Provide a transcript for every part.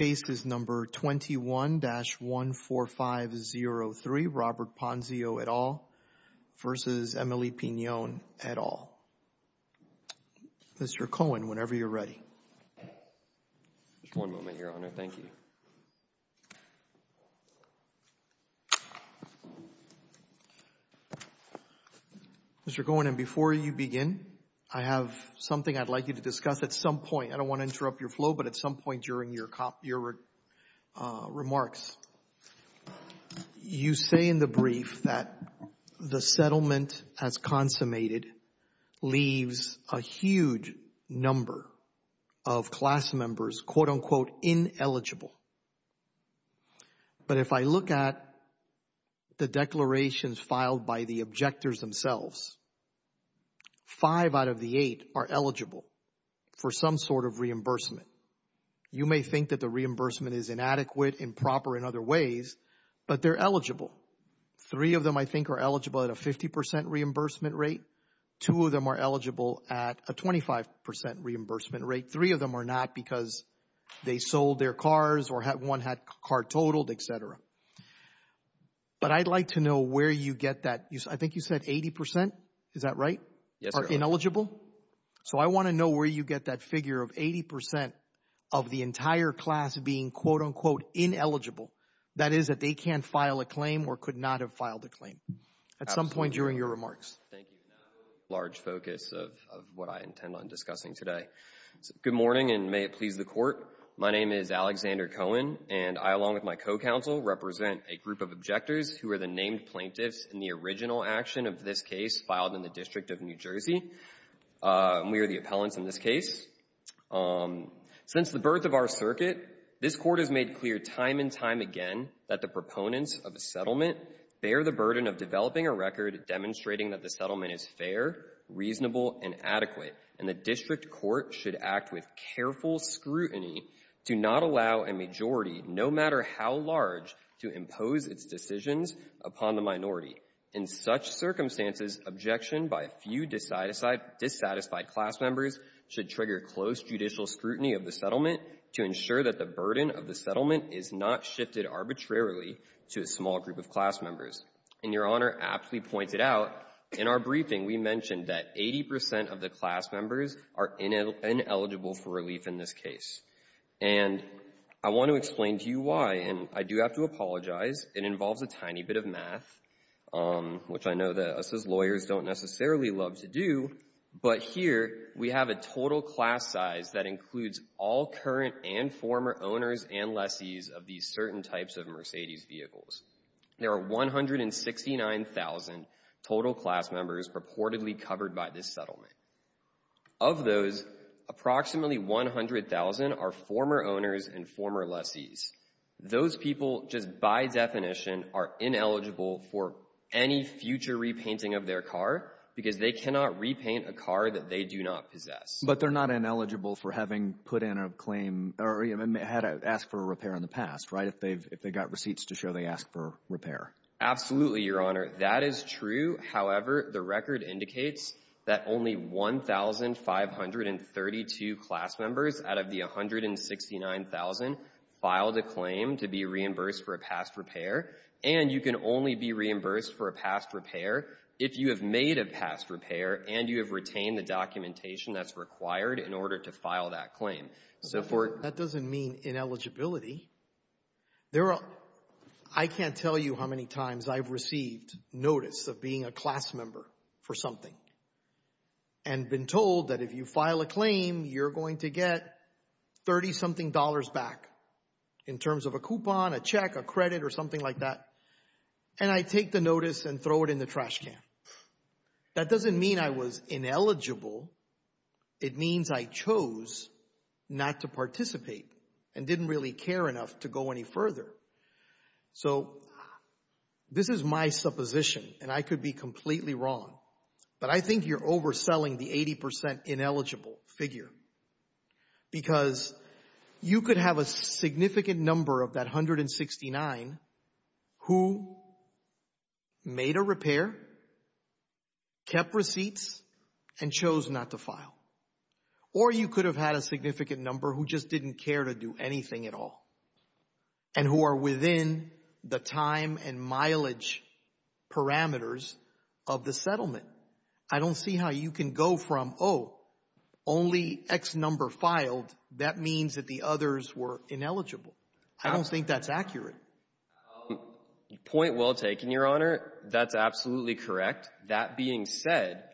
at all. Mr. Cohen, whenever you're ready. Just one moment here, owner, thank you. Mr. Cohen, and before you begin, I have something I'd like you to discuss at some point. I don't want to interrupt your flow, but at some point during your remarks, you say in the brief that the settlement has consummated leaves a huge number of class members quote unquote ineligible. But if I look at the declarations you may think that the reimbursement is inadequate, improper in other ways, but they're eligible. Three of them I think are eligible at a 50% reimbursement rate. Two of them are eligible at a 25% reimbursement rate. Three of them are not because they sold their cars or one had a car totaled, etc. But I'd like to know where you get that. I think you said 80% is that right? Ineligible? So I want to know where you get that figure of 80% of the entire class being quote unquote ineligible. That is that they can't file a claim or could not have filed a claim. At some point during your remarks. Large focus of what I intend on discussing today. Good morning and may it please the court. My name is Alexander Cohen and I along with my co-counsel represent a group of objectors who are the named plaintiffs in the original action of this case filed in the District of New Jersey. We are the appellant in this case. Since the birth of our circuit, this court has made clear time and time again that the proponents of the settlement bear the burden of developing a record demonstrating that the settlement is fair, reasonable and adequate. And the District Court should act with careful scrutiny to not allow a majority no matter how large to impose its decisions upon the minority. In such circumstances, objection by a few dissatisfied class members should trigger close judicial scrutiny of the settlement to ensure that the burden of the settlement is not shifted arbitrarily to a small group of class members. And your honor actually pointed out in our briefing we mentioned that 80% of the class members are ineligible for relief in this case. And I want to explain to you why. And I do have to apologize. It involves a tiny bit of math which I know that us as lawyers don't necessarily love to do. But here we have a total class size that includes all current and former owners and lessees of these certain types of Mercedes vehicles. There are 169,000 total class members reportedly covered by this settlement. Of those, approximately 100,000 are former owners and former lessees. Those people just by definition are ineligible for any future repainting of their car because they cannot repaint a car that they do not possess. But they're not ineligible for having put in a claim or even had to ask for a repair in the past, right? If they've got receipts to show they asked for repair. Absolutely, your honor. That is true. However, the record indicates that only 1,532 class members out of the 169,000 filed a claim to be reimbursed for a past repair. And you can only be reimbursed for a past repair if you have made a past repair and you have retained the documentation that's required in order to file that claim. That doesn't mean ineligibility. I can't tell you how many times I've received notice of being a class member for something and been told that if you file a claim, you're going to get 30 something dollars back in terms of a coupon, a check, a credit or something like that. And I take the notice and throw it in the trash can. That doesn't mean I was ineligible. It means I chose not to participate and didn't really care enough to go any further. So this is my supposition. And I could be completely wrong. But I think you're overselling the 80% ineligible figure. Because you could have a significant number of that 169 who made a repair, kept receipts and chose not to file. Or you could have had a significant number who just didn't care to do anything at all. And who are within the time and mileage parameters of the settlement. I don't see how you can go from, oh, only X number filed. That means that the others were ineligible. I don't think that's accurate. Point well taken, Your Honor. That's absolutely correct. That being said,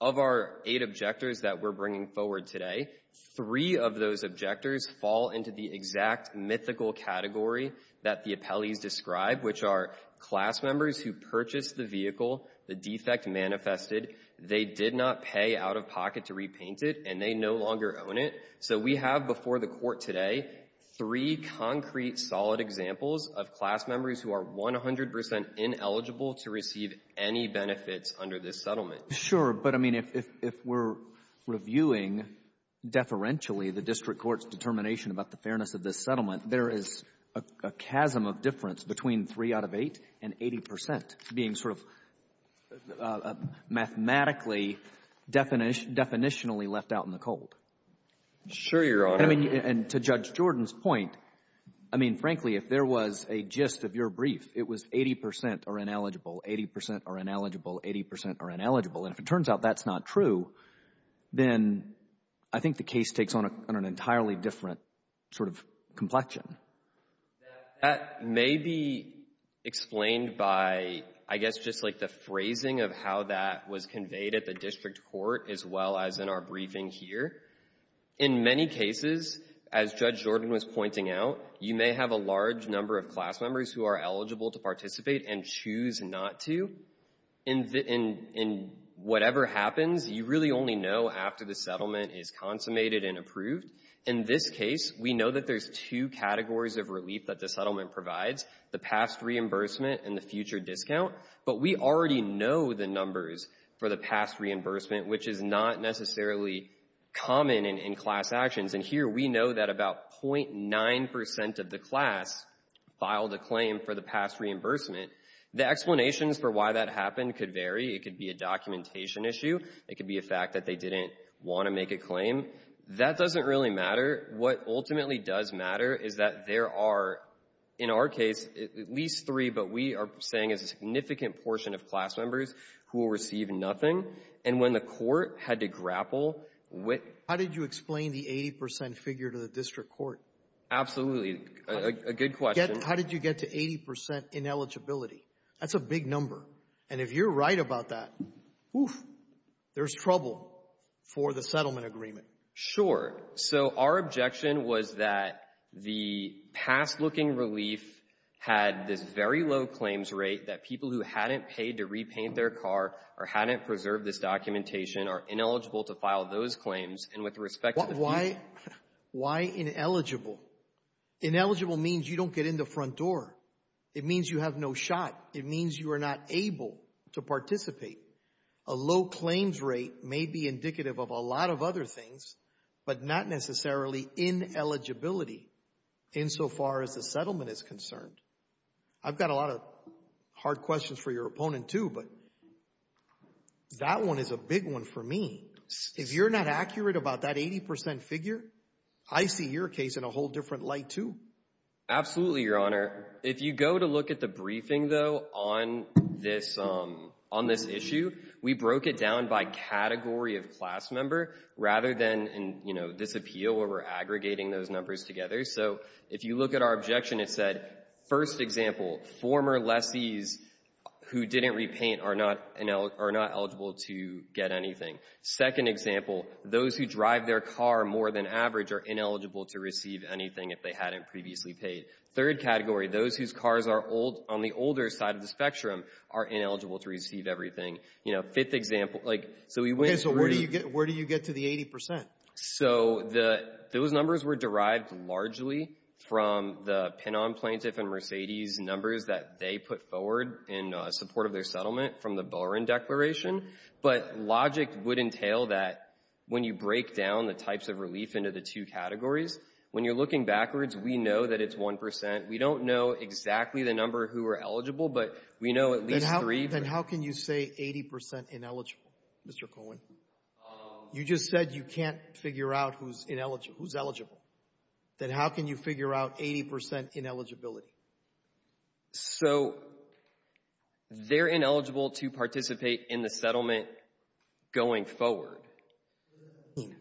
of our eight objectors that we're bringing forward today, three of those objectors fall into the exact mythical category that the appellee described, which are class members who purchased the vehicle, the defect manifested, they did not pay out of pocket to repaint it, and they no longer own it. So we have before the court today three concrete solid examples of class members who are 100% ineligible to receive any benefits under this settlement. Sure. But, I mean, if we're reviewing deferentially the district court's determination about the fairness of this settlement, there is a chasm of difference between three out of eight and 80% being sort of mathematically, definitionally left out in the cold. Sure, Your Honor. And to Judge Jordan's point, I mean, frankly, if there was a gist of your brief, it was 80% are ineligible, 80% are ineligible, 80% are ineligible. And if it turns out that's not true, then I think the case takes on an entirely different sort of complexion. That may be explained by, I guess, just like the phrasing of how that was conveyed at the district court, as well as in our briefing here. In many cases, as Judge Jordan was pointing out, you may have a large number of class members who are eligible to participate and choose not to. And whatever happens, you really only know after the settlement is consummated and approved. In this case, we know that there's two categories of relief that the settlement provides, the past reimbursement and the future discount. But we already know the numbers for the past reimbursement, which is not necessarily common in class actions. And here, we know that about 0.9% of the class filed a claim for the past reimbursement. The explanations for why that happened could vary. It could be a documentation issue. It could be a fact that they didn't want to make a claim. That doesn't really matter. What ultimately does matter is that there are, in our case, at least three, but we are saying a significant portion of class members who will receive nothing. And when the court had to grapple How did you explain the 80% figure to the district court? Absolutely. A good question. How did you get to 80% ineligibility? That's a big number. And if you're right about that, there's trouble for the settlement agreement. Sure. So our objection was that the past looking relief had this very low claims rate that people who hadn't paid to repaint their car or hadn't preserved this documentation are ineligible to claims. And with respect to... Why ineligible? Ineligible means you don't get in the front door. It means you have no shot. It means you are not able to participate. A low claims rate may be indicative of a lot of other things, but not necessarily ineligibility insofar as the settlement is concerned. I've got a lot of hard questions for your opponent too, but that one is a big one for me. If you're not accurate about that 80% figure, I see your case in a whole different light too. Absolutely, Your Honor. If you go to look at the briefing though on this issue, we broke it down by category of class member rather than this appeal where we're aggregating those numbers together. So if you look at our objection, it said, first example, former lesbians who didn't repaint are not eligible to get anything. Second example, those who drive their car more than average are ineligible to receive anything if they hadn't previously paid. Third category, those whose cars are on the older side of the spectrum are ineligible to receive everything. Fifth example, so we went... Okay, so where do you get to the 80%? So those numbers were derived largely from the pin-on plaintiff and Mercedes numbers that they put forward in support of their settlement from the Bellring Declaration. But logic would entail that when you break down the types of relief into the two categories, when you're looking backwards, we know that it's 1%. We don't know exactly the number who are eligible, but we know at least three... Then how can you say 80% ineligible, Mr. Cohen? You just said you can't figure out who's eligible. Then how can you figure out 80% ineligibility? So they're ineligible to participate in the settlement going forward.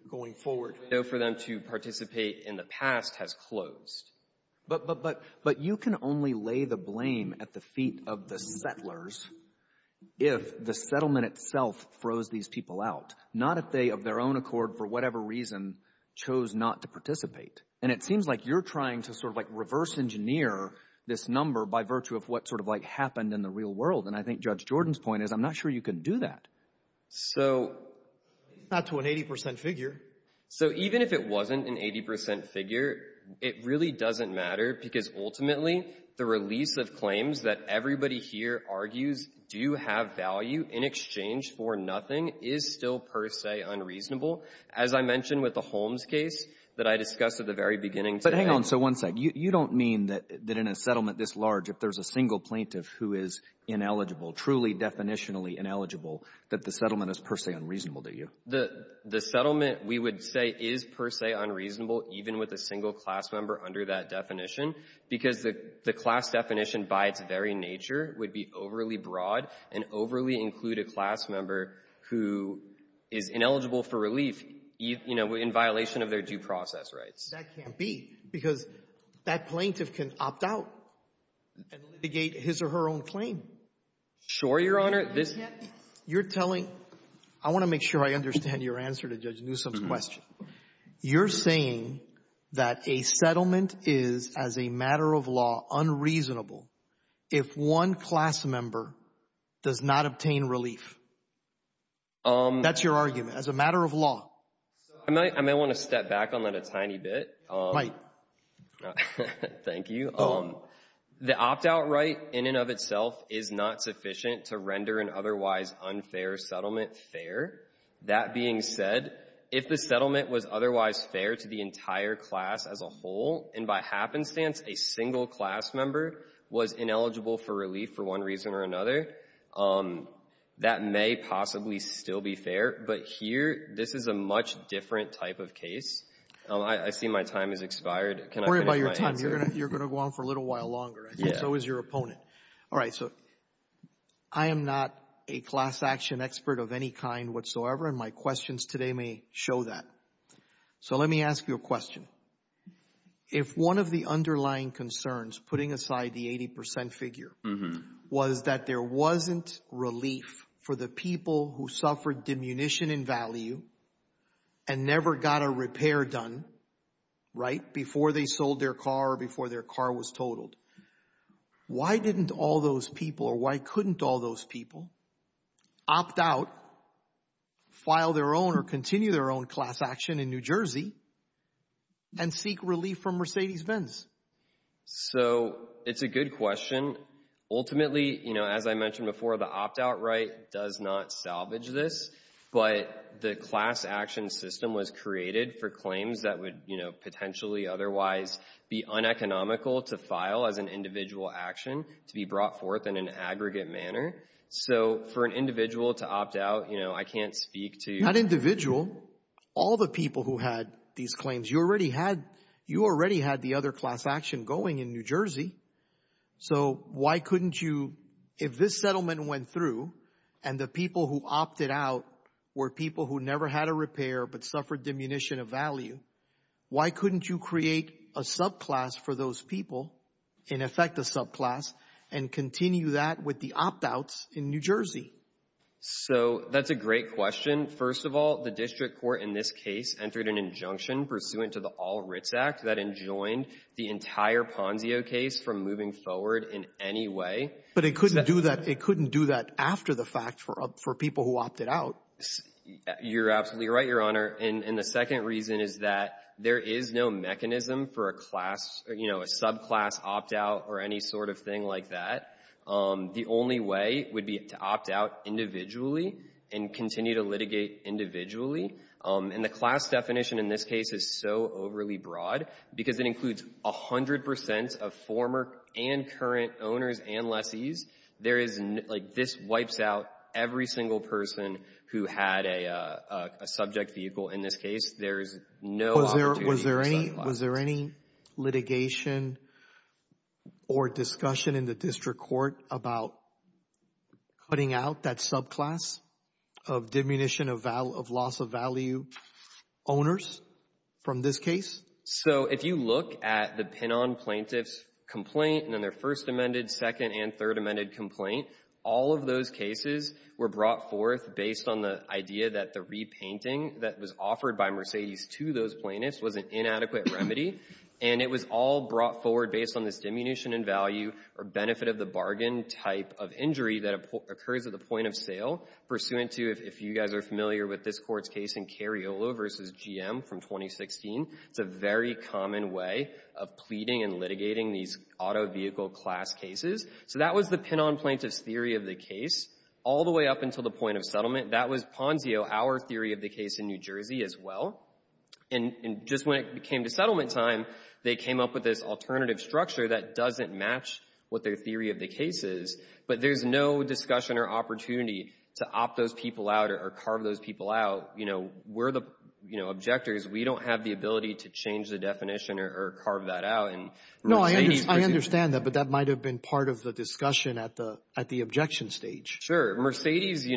Going forward. So for them to participate in the past has closed. But you can only lay the blame at the feet of the settlers if the settlement itself froze these people out, not if they, of their own accord, for whatever reason, chose not to participate. And it seems like you're trying to sort of reverse engineer this number by virtue of what sort of happened in the real world. And I think Judge Jordan's point is, I'm not sure you can do that. So that's an 80% figure. So even if it wasn't an 80% figure, it really doesn't matter because ultimately, the release of claims that everybody here argues do have value in exchange for nothing is still per se unreasonable. As I mentioned with the Holmes case that I discussed at the very beginning. But hang on. So one thing, you don't mean that in a settlement this large, if there's a single plaintiff who is ineligible, truly definitionally ineligible, that the settlement is per se unreasonable, do you? The settlement we would say is per se unreasonable, even with a single class member under that definition, because the class definition by its very nature would be overly broad and overly include a class member who is ineligible for release in violation of their due process rights. That can't be, because that plaintiff can opt out and litigate his or her own claim. Sure, Your Honor. I want to make sure I understand your answer to Judge Newsom's You're saying that a settlement is, as a matter of law, unreasonable if one class member does not obtain relief. That's your argument, as a matter of law. I might want to step back on that a tiny bit. Thank you. The opt-out right in and of itself is not sufficient to render an otherwise unfair settlement fair. That being said, if the settlement was otherwise fair to the entire class as a whole, and by happenstance a single class member was ineligible for relief for one reason or another, that may possibly still be fair. But here, this is a much different type of case. I see my time has expired. Don't worry about your time. You're going to go on for a little longer, and so is your opponent. I am not a class action expert of any kind whatsoever, and my questions today may show that. Let me ask you a question. If one of the underlying concerns, putting aside the 80% figure, was that there wasn't relief for the people who suffered diminution in value and never got a repair done before they sold their car or before their car was totaled, why didn't all those people, or why couldn't all those people opt out, file their own or continue their own class action in New Jersey, and seek relief from Mercedes-Benz? It's a good question. Ultimately, as I mentioned before, the opt-out right does not salvage this, but the class action system was created for claims that potentially otherwise be uneconomical to file as an individual action to be brought forth in an aggregate manner. For an individual to opt out, I can't speak to- Not individual, all the people who had these claims. You already had the other class action going in New Jersey, so why couldn't you, if this settlement went through and the people who opted out were people who never had a repair but suffered diminution of value, why couldn't you create a subclass for those people, in effect a subclass, and continue that with the opt-outs in New Jersey? That's a great question. First of all, the district court in this case entered an injunction pursuant to the All-Rich Act that enjoined the entire Ponzio case from moving forward in any way. But it couldn't do that after the fact for people who opted out. You're absolutely right, Your Honor. The second reason is that there is no mechanism for a subclass opt-out or any sort of thing like that. The only way would be to opt out individually and continue to litigate individually. The class definition in this case is so overly broad because it includes a hundred percent of former and current owners and lettees. This wipes out every single person who had a subject vehicle in this case. There is no... Was there any litigation or discussion in the district court about cutting out that subclass of diminution of loss of value owners from this case? If you look at the pin-on plaintiff's complaint and then their first amended, second, and third amended complaint, all of those cases were brought forth based on the idea that the repainting that was offered by Mercedes to those plaintiffs was an inadequate remedy. It was all brought forward based on this diminution in value or benefit of the bargain type of injury that occurred at the point of sale pursuant to, if you guys are familiar with the case of Pond deal versus GM from 2016, the very common way of pleading and litigating these auto vehicle class cases. That was the pin-on plaintiff's theory of the case all the way up until the point of settlement. That was Pond deal, our theory of the case in New Jersey as well. Just when it came to settlement time, they came up with this alternative structure that doesn't match what their theory of the case is, but there's no discussion or opportunity to opt those people out or carve those people out. We're the objectors. We don't have the ability to change the definition or carve that out. No, I understand that, but that might have been part of the discussion at the objection stage. Sure. Mercedes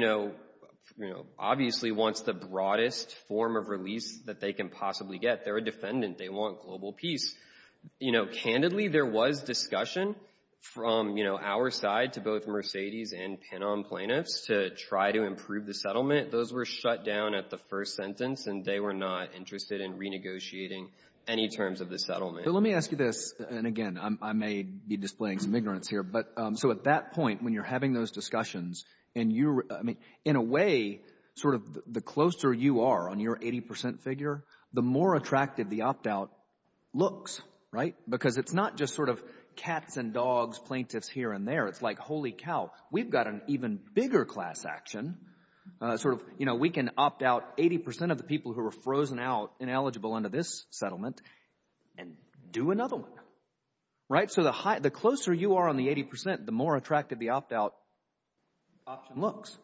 obviously wants the broadest form of release that they can possibly get. They're a defendant. They want global peace. Candidly, there was discussion from our side to both Mercedes and pin-on plaintiffs to try to improve the settlement. Those were shut down at the first sentence, and they were not interested in renegotiating any terms of the settlement. Let me ask you this, and again, I may be displaying some ignorance here. At that point, when you're having those discussions, in a way, the closer you are on your 80% figure, the more attractive the opt-out looks, because it's not just cats and dogs, plaintiffs here and there. It's like, holy cow, we've got an even bigger class action. We can opt out 80% of the people who are frozen out, ineligible under this settlement, and do another one. The closer you are on the 80%, the more attractive the opt-out option looks.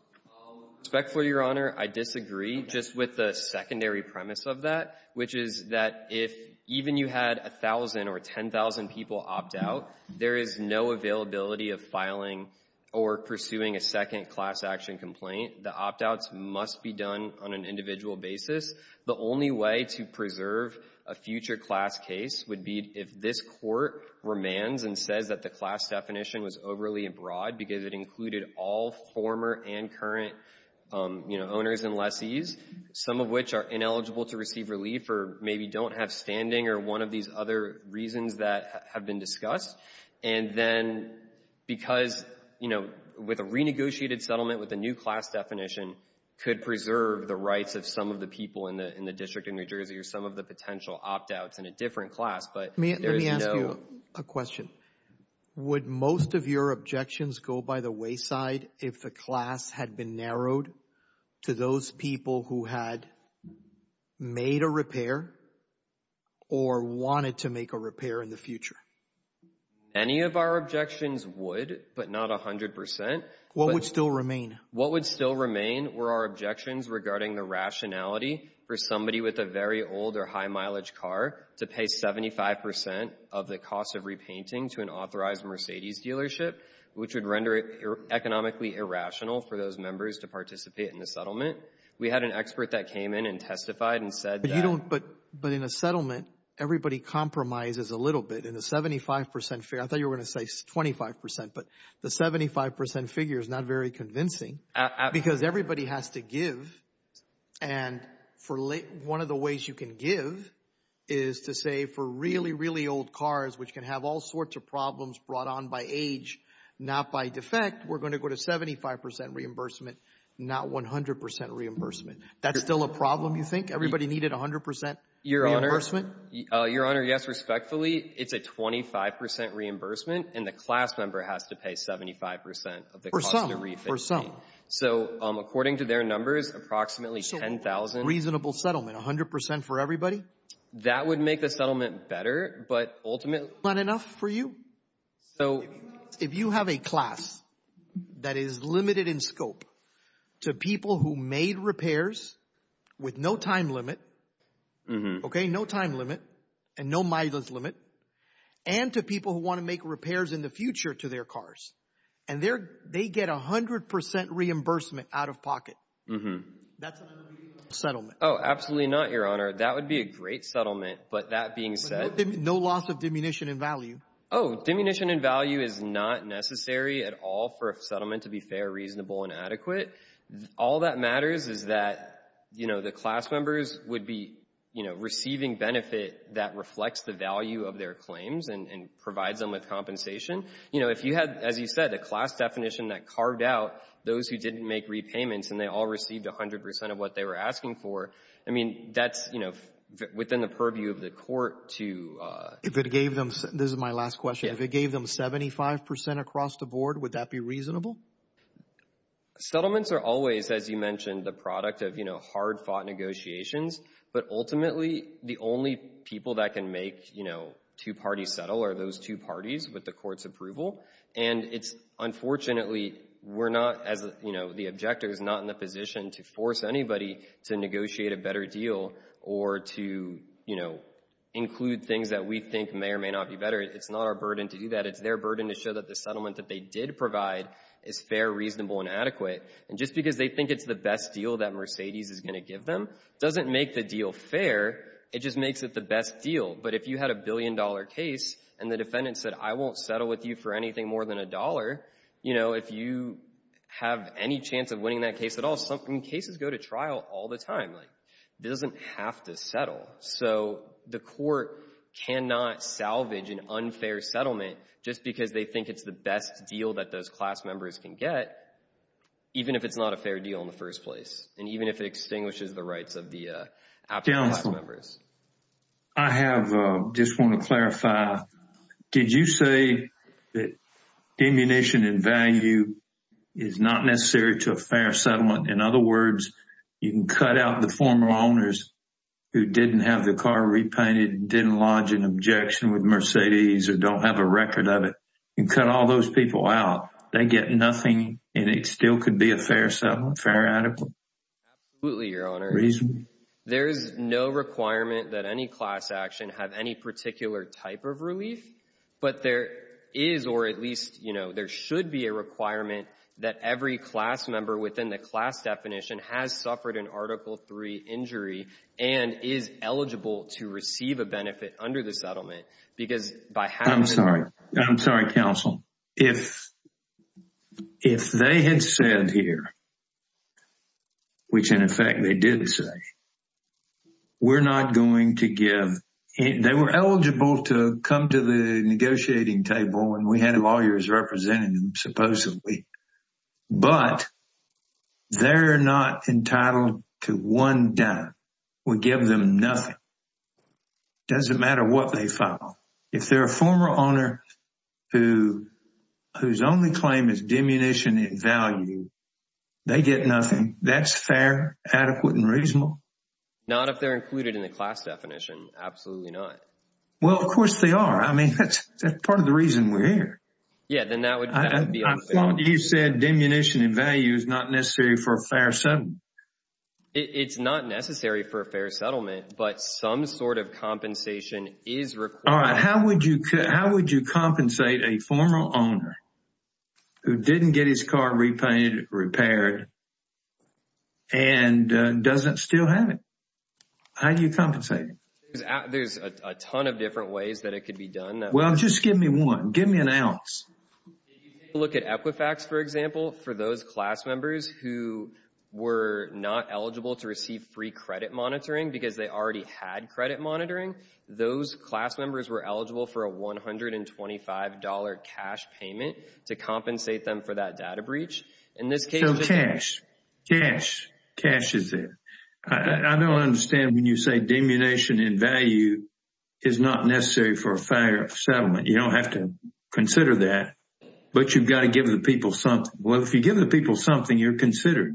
Respectfully, Your Honor, I disagree just with the secondary premise of that, which is that if even you had 1,000 or 10,000 people opt out, there is no availability of filing or pursuing a second class action complaint. The opt-outs must be done on an individual basis. The only way to preserve a future class case would be if this court remands and says that the class definition was overly abroad, because it included all former and current owners and lessees, some of which are ineligible to receive relief, or maybe don't have standing, or one of these other reasons that have been discussed. Then, because with a renegotiated settlement with a new class definition, could preserve the rights of some of the people in the District of New Jersey, or some of the potential opt-outs in a different class, but there is no- Your objections go by the wayside if the class had been narrowed to those people who had made a repair or wanted to make a repair in the future? Any of our objections would, but not 100%. What would still remain? What would still remain were our objections regarding the rationality for somebody with a very old or high mileage car to pay 75% of the cost of repainting to an authorized Mercedes dealership, which would render it economically irrational for those members to participate in the settlement. We had an expert that came in and testified and said that- But in a settlement, everybody compromises a little bit. In a 75% fair, I thought you were going to say 25%, but the 75% figure is not very convincing, because everybody has to give. One of the ways you can give is to say for really, really old cars, which can have all gone by age, not by defect, we're going to go to 75% reimbursement, not 100% reimbursement. That's still a problem, you think? Everybody needed 100% reimbursement? Your Honor, yes, respectfully, it's a 25% reimbursement, and the class number has to pay 75% of the cost of the repainting. For some, for some. So according to their numbers, approximately 10,000- Reasonable settlement, 100% for everybody? That would make the settlement better, but ultimately- Not enough for you? If you have a class that is limited in scope to people who made repairs with no time limit, okay, no time limit, and no mileage limit, and to people who want to make repairs in the future to their cars, and they get 100% reimbursement out of pocket, that's a reasonable settlement. Oh, absolutely not, Your Honor. That would be a great settlement, but that being said- No loss of diminution in value. Oh, diminution in value is not necessary at all for a settlement to be fair, reasonable, and adequate. All that matters is that the class members would be receiving benefit that reflects the value of their claims and provide them with compensation. If you had, as you said, a class definition that carved out those who didn't make repayments, and they all received 100% of what they were asking for, that's within the purview of the court to- This is my last question. If it gave them 75% across the board, would that be reasonable? Settlements are always, as you mentioned, the product of hard-fought negotiations, but ultimately, the only people that can make two parties settle are those two parties with the court's approval. Unfortunately, the objector is not in a position to force anybody to negotiate a better deal or to include things that we think may or may not be better. It's not our burden to do that. It's their burden to show that the settlement that they did provide is fair, reasonable, and adequate. Just because they think it's the best deal that Mercedes is going to give them doesn't make the deal fair. It just makes it the best deal. If you had a billion-dollar case and the defendant said, I won't settle with you for anything more than a dollar, if you have any winning that case at all, cases go to trial all the time. It doesn't have to settle. The court cannot salvage an unfair settlement just because they think it's the best deal that those class members can get, even if it's not a fair deal in the first place, and even if it extinguishes the rights of the after-class members. I just want to clarify. Did you say that ammunition and value is not necessary to a fair settlement? In other words, you can cut out the former owners who didn't have the car repainted, didn't lodge an objection with Mercedes, or don't have a record of it. You can cut all those people out. They get nothing, and it still could be a fair settlement, fair and adequate? Absolutely, Your Honor. There is no requirement that any class action have any particular type of relief, but there is, or at least there should be a requirement that every class member within the class definition has suffered an Article III injury and is eligible to receive a benefit under the settlement. I'm sorry, counsel. If they had said here, which in effect they did say, we're not going to give. They were eligible to come to the negotiating table, and we had lawyers representing them, supposedly, but they're not entitled to one dime. We give them nothing. It doesn't matter what they file. If they're a former owner whose only claim is demunition and not if they're included in the class definition, absolutely not. Well, of course they are. I mean, that's part of the reason we're here. Yeah, then that would be. I thought you said demunition and value is not necessary for a fair settlement. It's not necessary for a fair settlement, but some sort of compensation is required. All right. How would you compensate a former owner who didn't get his car repainted, repaired, and doesn't still have it? How do you compensate? There's a ton of different ways that it could be done. Well, just give me one. Give me an ounce. Look at Epifax, for example. For those class members who were not eligible to receive free credit monitoring because they already had credit monitoring, those class members were eligible for $125 cash payment to compensate them for that data breach. So cash. Cash. Cash is there. I don't understand when you say demunition and value is not necessary for a fair settlement. You don't have to consider that, but you've got to give the people something. Well, if you give the people something, you're considered.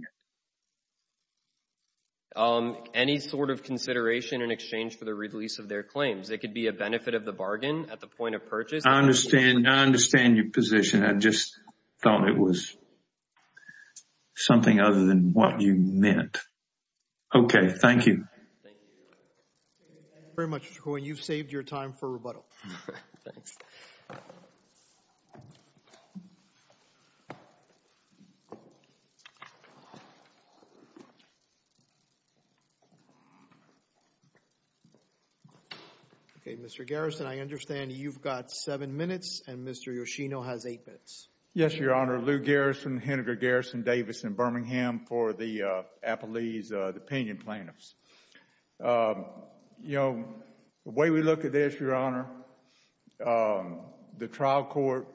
Any sort of consideration in exchange for the release of their claims. It could be a benefit of the bargain at the point of purchase. I understand. I understand your position. I just thought it was something other than what you meant. Okay. Thank you. Very much, Mr. Cohen. You've saved your time for rebuttal. Okay. Mr. Garrison, I understand you've got seven minutes and Mr. Yoshino has eight minutes. Yes, Your Honor. Lou Garrison, Henry Garrison Davis in Birmingham for the Appalachians, the opinion plaintiffs. The way we look at this, Your Honor, the trial court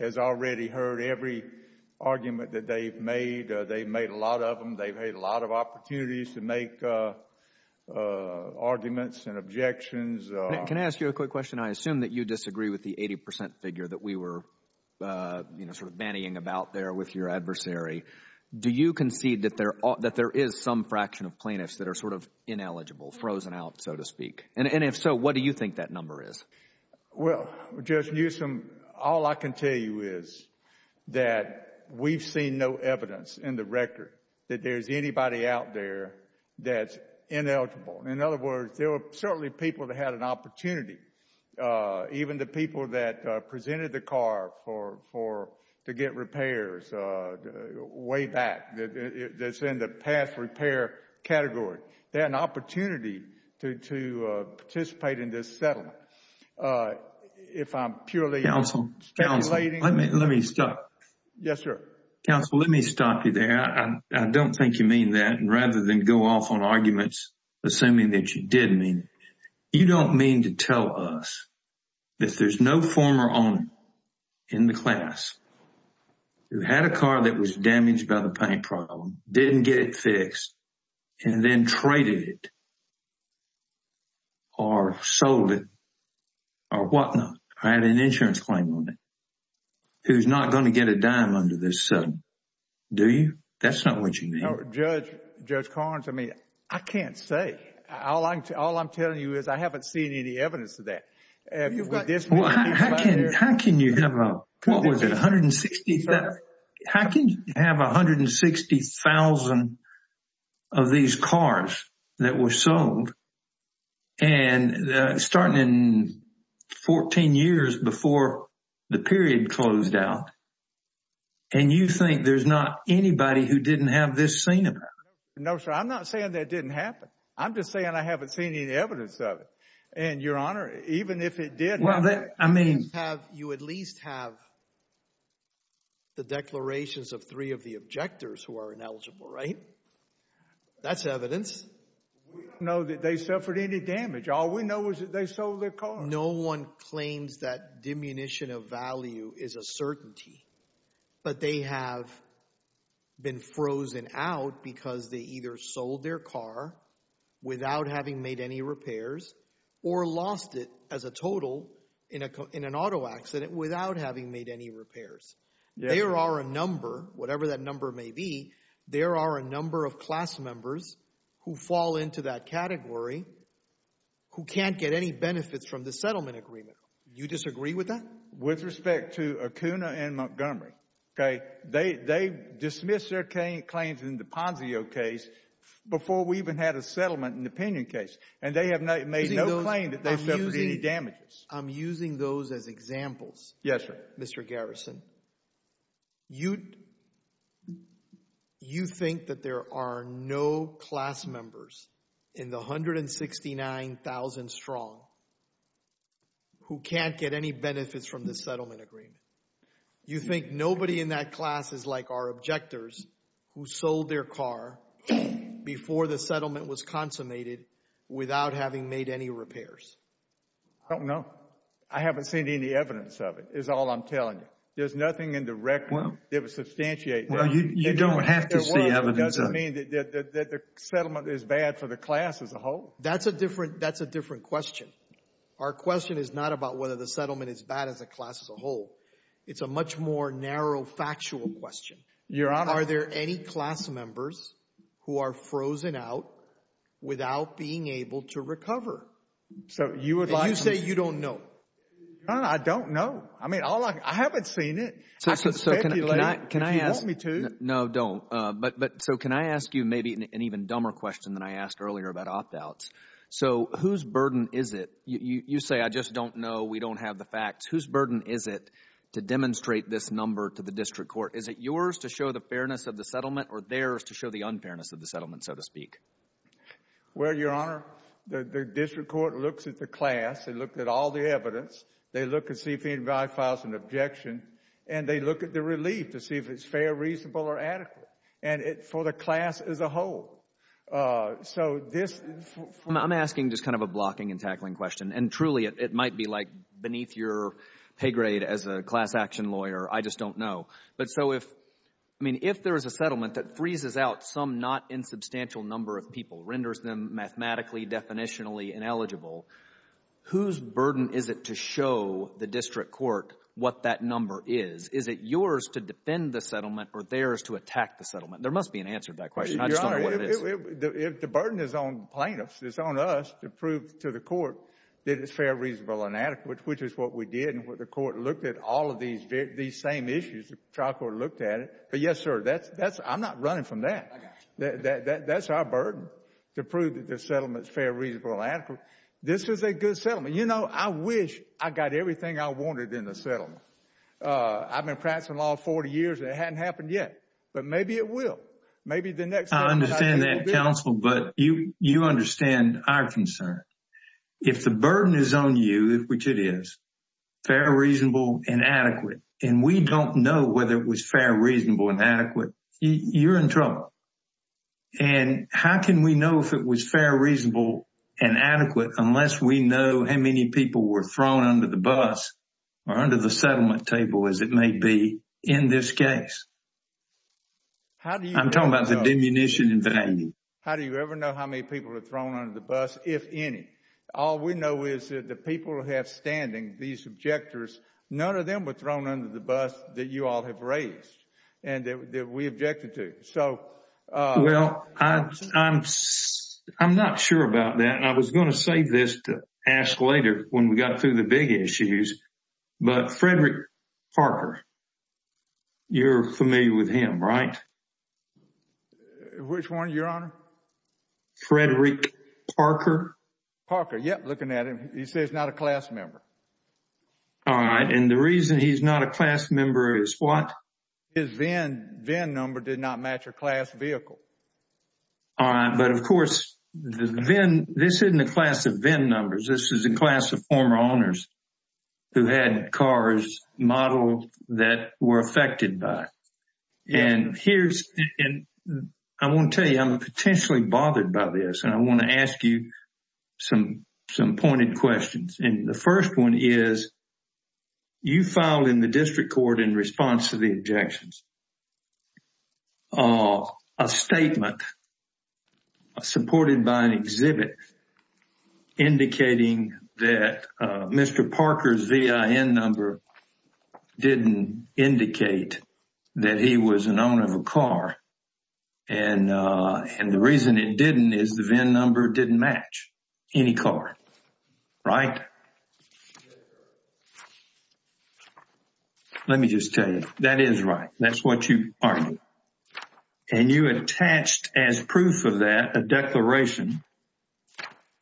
has already heard every argument that they've made. They've made a lot of them. They've had a lot of opportunities to make arguments and objections. Can I ask you a quick question? I assume that you disagree with the 80% figure that we were banning about there with your adversary. Do you concede that there is some fraction of plaintiffs that are ineligible, frozen out, so to speak? If so, what do you think that number is? Well, Judge Newsom, all I can tell you is that we've seen no evidence in the record that there's anybody out there that's ineligible. In other words, there were certainly people that had an opportunity, even the people that presented the car to get repairs way back that's in the past repair category. They had an opportunity to participate in this settlement. If I'm purely speculating- Counsel, let me stop. Yes, sir. Counsel, let me stop you there. I don't think you mean that rather than go off on arguments assuming that you did mean it. You don't mean to tell us that there's no former owner in the class who had a car that was damaged by the paint problem, didn't get it fixed, and then traded it or sold it or whatnot, had an insurance claim on it, who's not going to get a dime under this settlement. Do you? That's not what you mean. No, Judge Carnes, I mean, all I'm telling you is I haven't seen any evidence of that. How can you have 160,000 of these cars that were sold starting in 14 years before the period closed out, and you think there's not anybody who didn't have this seen? No, sir. I'm not saying that didn't happen. I'm just saying I haven't seen any evidence of it, and your honor, even if it did- Well, I mean, you at least have the declarations of three of the objectors who are ineligible, right? That's evidence. We don't know that they suffered any damage. All we know is that they sold their car. No one claims that diminution of value is a certainty, but they have been frozen out because they either sold their car without having made any repairs or lost it as a total in an auto accident without having made any repairs. There are a number, whatever that number may be, there are a number of class members who fall into that category who can't get any benefits from the settlement agreement. You disagree with that? With respect to Acuna and Montgomery, okay? They dismissed their claims in the Ponzio case before we even had a settlement in the Penion case, and they have made no claim that they suffered any damages. I'm using those as examples, Mr. Garrison. You think that there are no class members in the 169,000 strong who can't get any benefits from the settlement agreement? You think nobody in that class is like our objectors who sold their car before the settlement was consummated without having made any repairs? I don't know. I haven't seen any evidence of it is all I'm telling you. There's nothing in the record that would substantiate- You don't have to see evidence of it. It doesn't mean that the settlement is bad for the class as a whole? That's a different question. Our question is not about whether the settlement is bad as a class as a whole. It's a much more narrow factual question. Are there any class members who are frozen out without being able to recover? You say you don't know. I don't know. I haven't seen it. So can I ask you maybe an even dumber question than I asked earlier about opt-outs? Whose burden is it? You say, I just don't know. We don't have the facts. Whose burden is it to demonstrate this number to the district court? Is it yours to show the fairness of the settlement or theirs to show the unfairness of the settlement, so to speak? Well, Your Honor, the district court looks at the class. They looked at all the evidence. They look at CP and guide files and objections, and they look at the relief to see if it's fair, reasonable, or adequate for the class as a whole. So this- I'm asking just kind of a blocking and tackling question. And truly, it might be like beneath your pay grade as a class action lawyer. I just don't know. But so if there is a settlement that freezes out some not insubstantial number of people, renders them mathematically, definitionally ineligible, whose burden is it to show the district court what that number is? Is it yours to defend the settlement or theirs to attack the settlement? There must be an answer to that question. I just don't know what it is. If the burden is on plaintiffs, it's on us to prove to the court that it's fair, reasonable, and adequate, which is what we did and what the court looked at all of these same issues. The trial court looked at it. But yes, sir, I'm not running from that. That's our burden to prove that the settlement's fair, reasonable, and adequate. This is a good settlement. You know, I wish I got everything I wanted in the settlement. I've been practicing law 40 years and it hadn't happened yet. But maybe it will. Maybe the next time- I understand that, counsel. But you understand our concern. If the burden is on you, which it is, fair, reasonable, and adequate, and we don't know whether it was fair, reasonable, and adequate, you're in trouble. And how can we know if it was fair, reasonable, and adequate unless we know how many people were thrown under the bus or under the settlement table, as it may be, in this case? I'm talking about the diminution in value. How do you ever know how many people are thrown under the bus, if any? All we know is that the people who have standing, these objectors, none of them were thrown under the bus that you all have raised and that we objected to. So- Well, I'm not sure about that. And I was going to say this to Ash later when we got through the big issues, but Frederick Parker, you're familiar with him, right? Which one, your honor? Frederick Parker. Parker, yep, looking at him. He says not a class member. All right, and the reason he's not a class member is what? His VIN number did not match a class vehicle. All right, but of course, the VIN, this isn't a class of VIN numbers. This is a class of former owners who had cars modeled that were affected by. And here's, and I want to tell you, I'm potentially bothered by this and I want to ask you some pointed questions. And the first one is, you filed in the district court in response to the objections a statement supported by an exhibit indicating that Mr. Parker's VIN number didn't indicate that he was an owner of a car. And the reason it didn't is the VIN number didn't match any car, right? Let me just tell you, that is right. That's what you argued. And you attached as proof of that, a declaration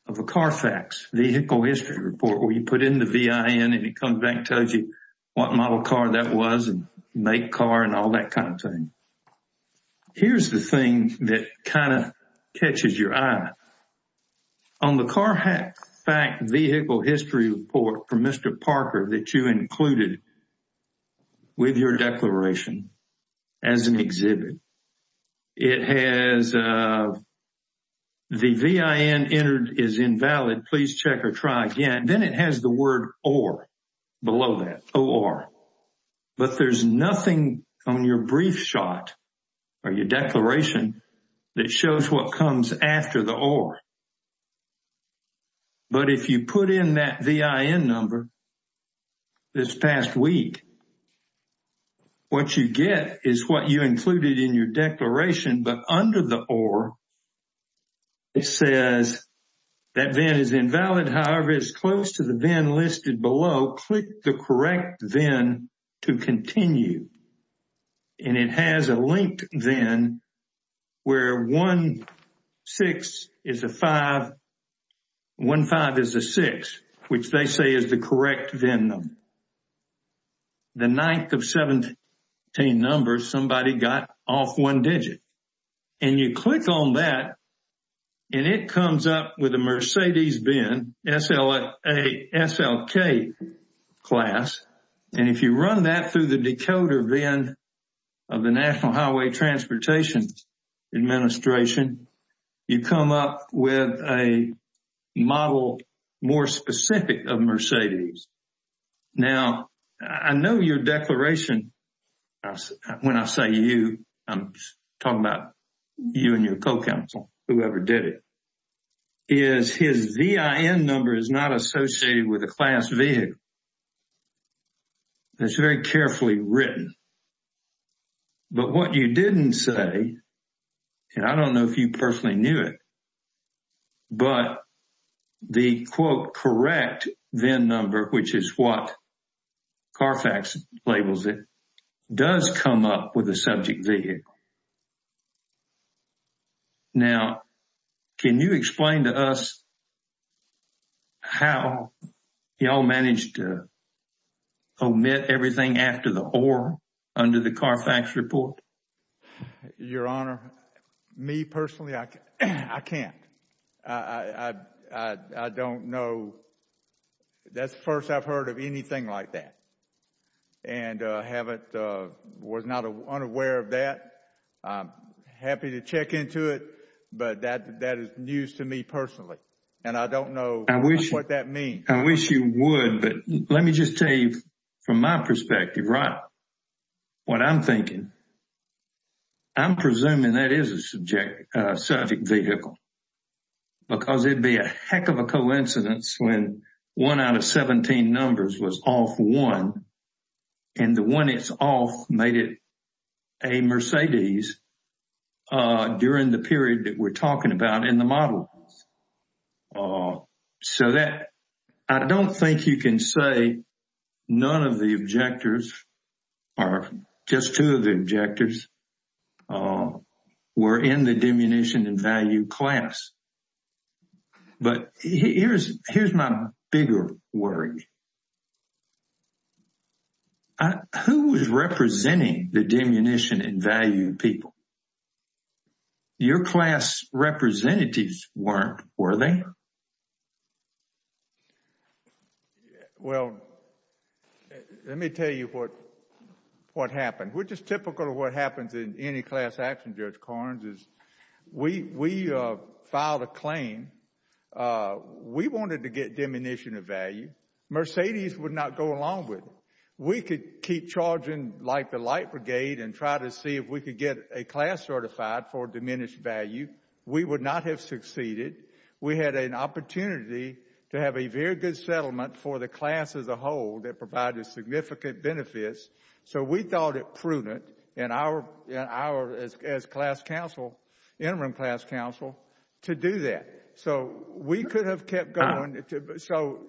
of a CAR FACTS vehicle history report where you put in the VIN and it comes back and tells you what model car that was and make car and all that kind of thing. Here's the thing that kind of catches your eye. On the CAR FACTS vehicle history report from Mr. Parker that you included with your declaration as an exhibit, it has the VIN entered as invalid. Please check or try again. Then it has the word or below that, or. But there's nothing on your brief shot or your declaration that shows what comes after the or. But if you put in that VIN number this past week, what you get is what you included in your declaration, but under the or, it says that VIN is invalid. However, it's close to the VIN listed below. Click the correct VIN to continue. And it has a linked VIN where one-sixth is the five, one-fifth is the sixth, which they say is the correct VIN number. The ninth of 17 numbers, somebody got off one digit. And you click on that and it comes up with a Mercedes VIN, SLK class. And if you run that through the decoder VIN of the National Highway Transportation Administration, you come up with a model more specific of Mercedes. Now, I know your declaration, when I say you, I'm talking about you and your co-counsel, whoever did it, is his VIN number is not associated with a class V. It's very carefully written. But what you didn't say, and I don't know if you personally knew it, but the quote correct VIN number, which is what CARFAX labels it, does come up with a subject V. Now, can you explain to us how y'all managed to omit everything after the or under the CARFAX report? Your Honor, me personally, I can't. I don't know. That's the first I've heard of anything like that. And was not unaware of that. I'm happy to check into it, but that is news to me personally. And I don't know what that means. I wish you would, but let me just tell you from my perspective, right, what I'm thinking. I'm presuming that is a subject vehicle, because it'd be a heck of a coincidence when one out of 17 numbers was off one, and the one that's off made it a Mercedes during the period that we're talking about in the model. So I don't think you can say none of the objectors, or just two of the objectors, were in the diminution in value class. But here's my bigger worry. Who is representing the diminution in value in people? Your class representatives weren't, were they? Well, let me tell you what happened, which is typical of what happens in any class action, is we filed a claim. We wanted to get diminution of value. Mercedes would not go along with it. We could keep charging like the Light Brigade and try to see if we could get a class certified for diminished value. We would not have succeeded. We had an opportunity to have a very good settlement for the class as a whole that provided significant benefits. So we thought it prudent, and as an interim class counsel, to do that. So we could have kept going.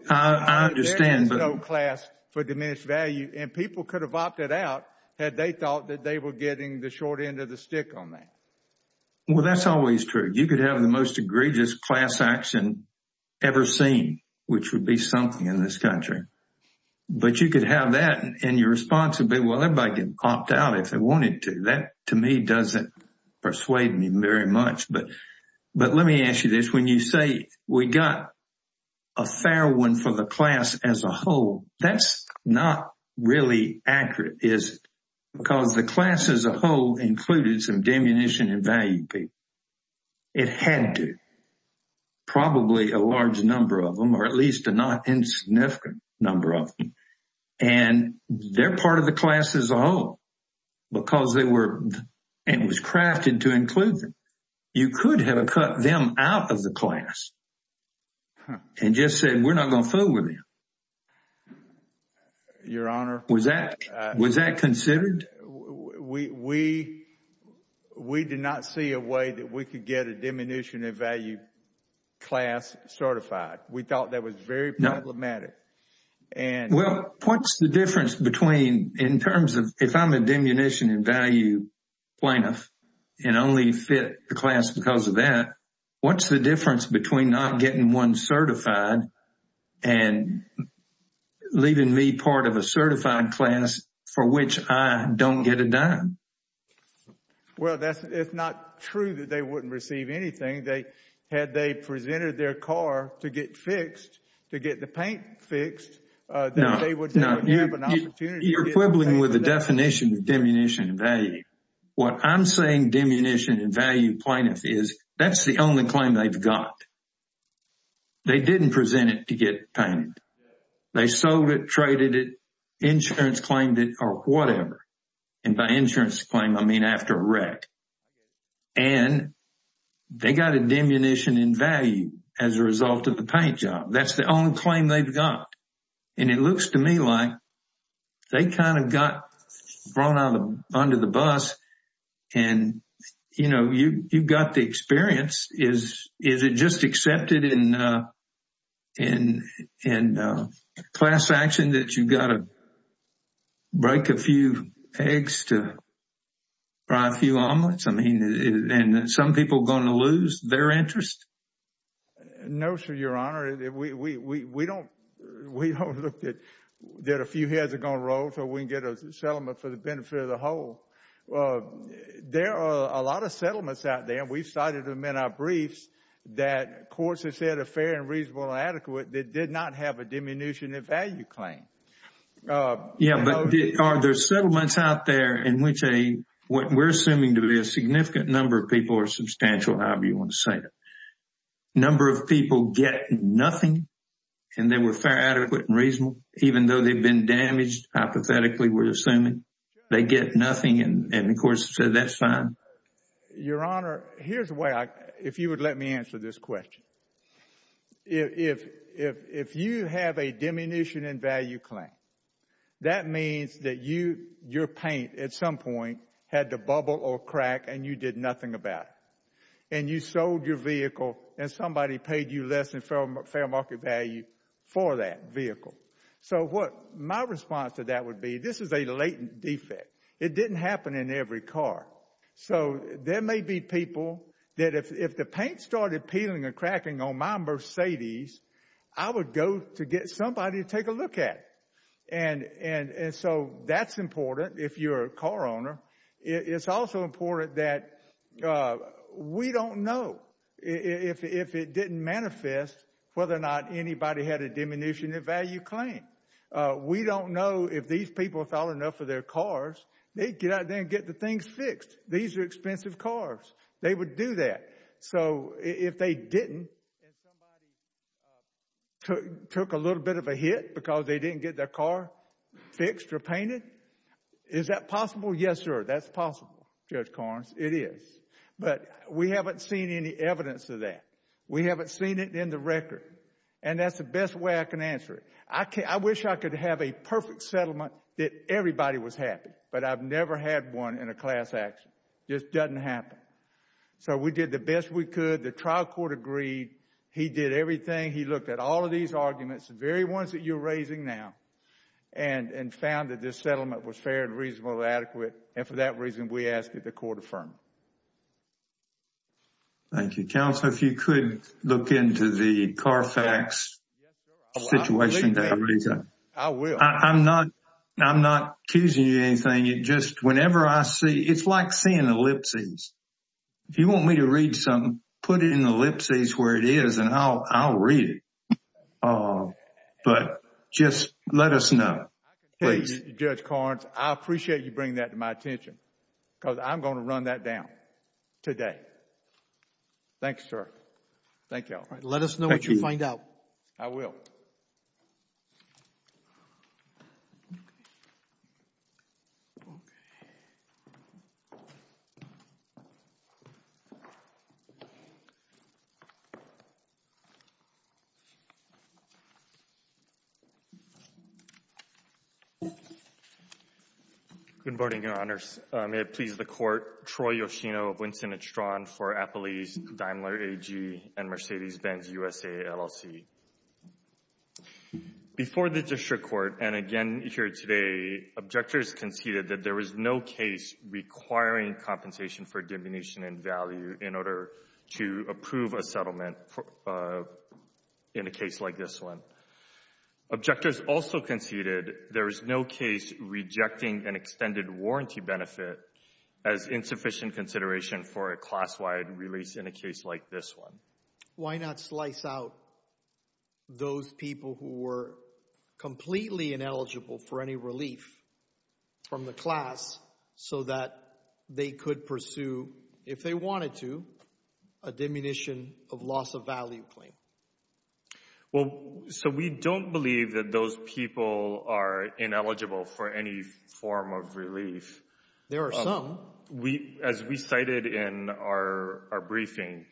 I understand. But there is no class for diminished value, and people could have opted out had they thought that they were getting the short end of the stick on that. Well, that's always true. You could have the most egregious class action ever seen, which would be something in this country. But you could have that, and your response would be, everybody can opt out if they wanted to. That, to me, doesn't persuade me very much. But let me ask you this. When you say we got a fair one for the class as a whole, that's not really accurate, because the class as a whole included some diminution in value people. It had to. Probably a large number of them, or at least a not insignificant number of them. And they're part of the class as a whole, because it was crafted to include them. You could have cut them out of the class and just said, we're not going to fool with you. Your Honor. Was that considered? We did not see a way that we could get a diminution in value class certified. We thought that was very problematic. Well, what's the difference between, in terms of, if I'm a diminution in value plaintiff, and only fit the class because of that, what's the difference between not getting one certified and leaving me part of a certified class for which I don't get a dime? Well, it's not true that they wouldn't receive anything. Had they presented their car to get to get the paint fixed, they would have an opportunity. You're quibbling with the definition of diminution in value. What I'm saying, diminution in value plaintiff, is that's the only claim they've got. They didn't present it to get painted. They sold it, traded it, insurance claimed it, or whatever. And by insurance claim, I mean after a wreck. And they got a diminution in value as a result of the paint job. That's the only claim they've got. And it looks to me like they kind of got thrown under the bus. And, you know, you've got the experience. Is it just accepted in class action that you've got to eggs to fry a few omelets? I mean, is some people going to lose their interest? No, sir, your honor. We don't look at that a few heads are going to roll so we can get a settlement for the benefit of the whole. There are a lot of settlements out there, and we've cited them in our briefs, that courts have said are fair and reasonable and adequate that did not have a diminution in value claim. Yeah, but there's settlements out there in which a what we're assuming to be a significant number of people are substantial, however you want to say it. Number of people get nothing, and they were fair, adequate and reasonable, even though they've been damaged. Apathetically, we're assuming they get nothing. And of course, so that's fine. Your honor, here's why, if you would let me answer this question. If you have a diminution in value claim, that means that your paint, at some point, had to bubble or crack and you did nothing about it. And you sold your vehicle and somebody paid you less than fair market value for that vehicle. So what my response to that would be, this is a latent defect. It didn't happen in every car. So there may be people that if the paint started peeling and cracking on my Mercedes, I would go to get somebody to take a look at it. And so that's important if you're a car owner. It's also important that we don't know if it didn't manifest whether or not anybody had a diminution in value claim. We don't know if these people thought enough of their cars. They get out there and get the things fixed. These are expensive cars. They would do that. So if they didn't and somebody took a little bit of a hit because they didn't get their car fixed or painted, is that possible? Yes, sir. That's possible, Judge Carnes. It is. But we haven't seen any evidence of that. We haven't seen it in the record. And that's the best way I can answer it. I wish I could have a perfect settlement that everybody was happy, but I've never had one in a class action. It just doesn't happen. So we did the best we could. The trial court agreed. He did everything. He looked at all of these arguments, the very ones that you're raising now, and found that this settlement was fair and reasonable and adequate. And for that reason, we asked that the court affirm. Thank you, Counselor. If you could look into the Carfax situation. I will. I'm not accusing you of anything. It's like seeing ellipses. If you want me to read something, put it in ellipses where it is and I'll read it. But just let us know. Judge Carnes, I appreciate you bringing that to my attention because I'm going to run that down today. Thank you, sir. Thank you. Let us know what you find out. I will. Okay. Good morning, Your Honors. May it please the court, Troy Yoshino, Winston and Strachan for Appalachian, Daimler AG, and Mercedes-Benz USA LLT. Before the district court, and again here today, objectors conceded that there is no case requiring compensation for diminution in value in order to approve a settlement in a case like this one. Objectors also conceded there is no case rejecting an extended warranty benefit as insufficient consideration for a class-wide release in a case like this one. Why not slice out those people who were completely ineligible for any relief from the class so that they could pursue, if they wanted to, a diminution of loss of value claim? Well, so we don't believe that those people are ineligible for any form of relief. There are some. As we cited in our briefing,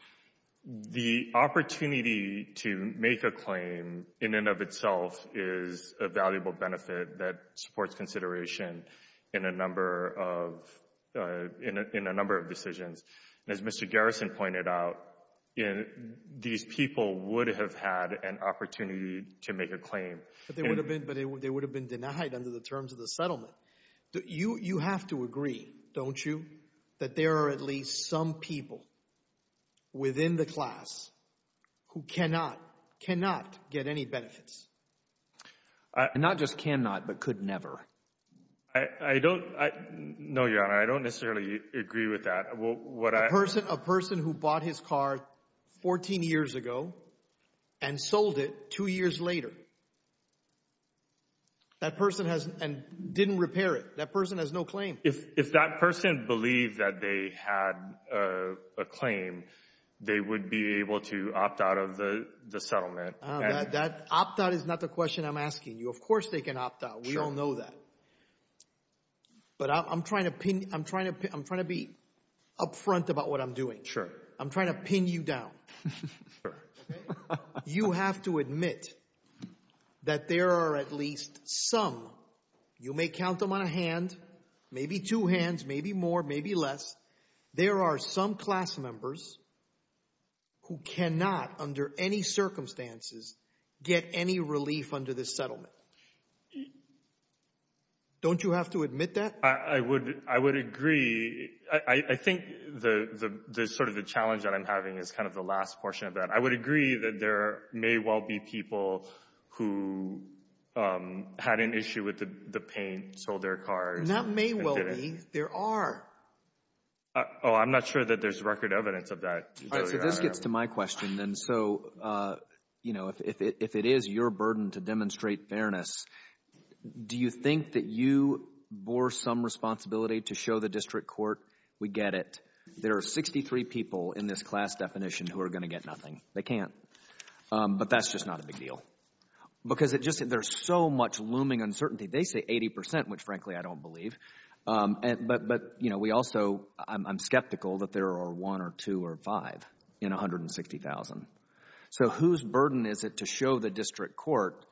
the opportunity to make a claim in and of itself is a valuable benefit that supports consideration in a number of decisions. As Mr. Garrison pointed out, these people would have had an opportunity to make a claim. But they would have been denied under the terms of the settlement. You have to agree, don't you, that there are at least some people within the class who cannot, cannot get any benefits? Not just cannot, but could never. I don't know, Your Honor. I don't necessarily agree with that. A person who bought his car 14 years ago and sold it two years later, that person has, and didn't repair it, that person has no claim. If that person believed that they had a claim, they would be able to opt out of the settlement. That opt-out is not the question I'm asking you. Of course they can opt out. We all know that. But I'm trying to be up front about what I'm doing. I'm trying to pin you down. Sir. You have to admit that there are at least some, you may count them on a hand, maybe two hands, maybe more, maybe less. There are some class members who cannot, under any circumstances, get any relief under this settlement. Don't you have to admit that? I would agree. I think the sort of the challenge that I'm having is kind of the last portion of that. I would agree that there may well be people who had an issue with the paint, sold their car. Not may well be. There are. Oh, I'm not sure that there's record evidence of that. This gets to my question then. So, you know, if it is your burden to demonstrate fairness, do you think that you bore some responsibility to show the district court, we get it, there are 63 people in this class definition who are going to get nothing. They can't. But that's just not a big deal. Because there's so much looming uncertainty. They say 80%, which frankly I don't believe. But we also, I'm skeptical that there are one or two or five in 160,000. So whose burden is it to show the district court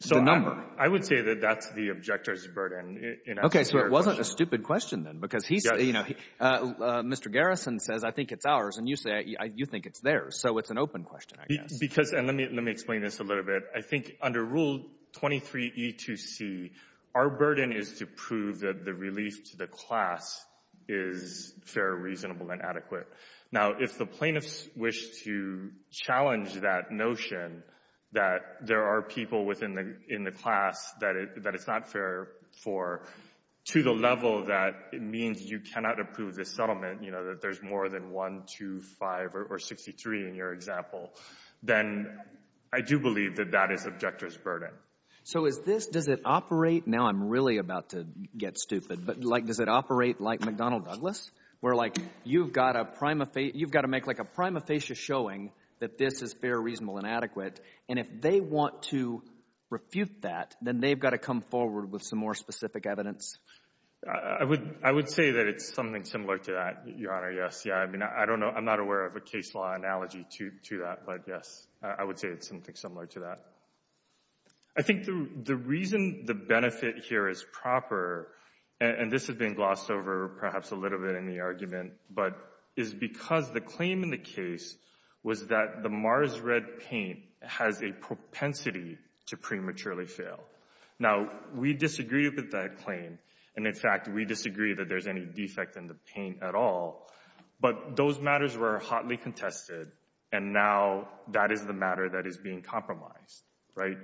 the number? I would say that that's the objector's burden. Okay, so it wasn't a stupid question then, you know, Mr. Garrison says, I think it's ours. And you say, you think it's theirs. So it's an open question, I guess. Because, and let me explain this a little bit. I think under rule 23E2C, our burden is to prove that the release to the class is fair, reasonable and adequate. Now, if the plaintiffs wish to challenge that notion that there are people within the class that it's not fair for, to the level that it means you cannot approve the settlement, you know, that there's more than one, two, five, or 63 in your example, then I do believe that that is objector's burden. So is this, does it operate, now I'm really about to get stupid, but like, does it operate like McDonnell Douglas? Where like, you've got a prima facie, you've got to make like a prima facie showing that this is fair, reasonable and they've got to come forward with some more specific evidence. I would, I would say that it's something similar to that, your honor. Yes. Yeah. I mean, I don't know. I'm not aware of a case law analogy to that, but yes, I would say it's something similar to that. I think the reason the benefit here is proper, and this has been glossed over perhaps a little bit in the argument, but is because the claim in the case was that the Mars Red Paint has a propensity to prematurely fail. Now we disagree with that claim. And in fact, we disagree that there's any defect in the paint at all, but those matters were hotly contested. And now that is the matter that is being compromised, right?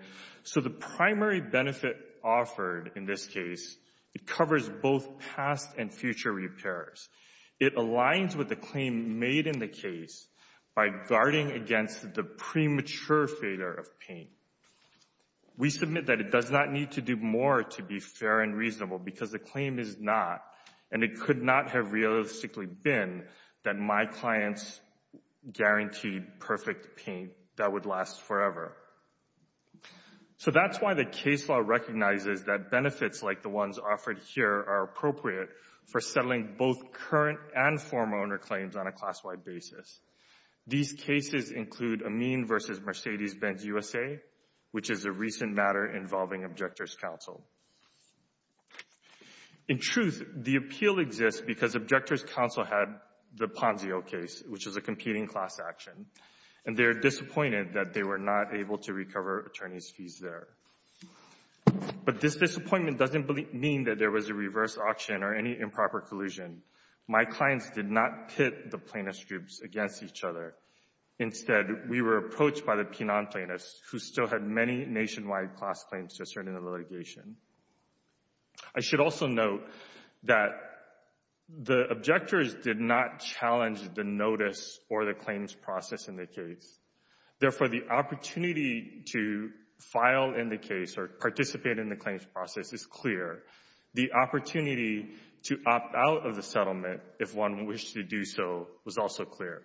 So the primary benefit offered in this case, it covers both past and future repairs. It aligns with the claim made in the case by guarding against the premature failure of paint. We submit that it does not need to do more to be fair and reasonable because the claim is not, and it could not have realistically been that my clients guaranteed perfect paint that would last forever. So that's why the case law recognizes that benefits like the ones offered here are appropriate for settling both current and class-wide basis. These cases include Amin versus Mercedes-Benz USA, which is a recent matter involving Objector's Counsel. In truth, the appeal exists because Objector's Counsel had the Ponzio case, which is a competing class action, and they're disappointed that they were not able to recover attorney's fees there. But this disappointment doesn't mean that there was a reverse auction or any improper collusion. My clients did not pit the plaintiff's groups against each other. Instead, we were approached by the penile plaintiffs who still had many nationwide class claims to turn in a litigation. I should also note that the objectors did not challenge the notice or the claims process in the case. Therefore, the opportunity to file in the settlement, if one wished to do so, was also clear.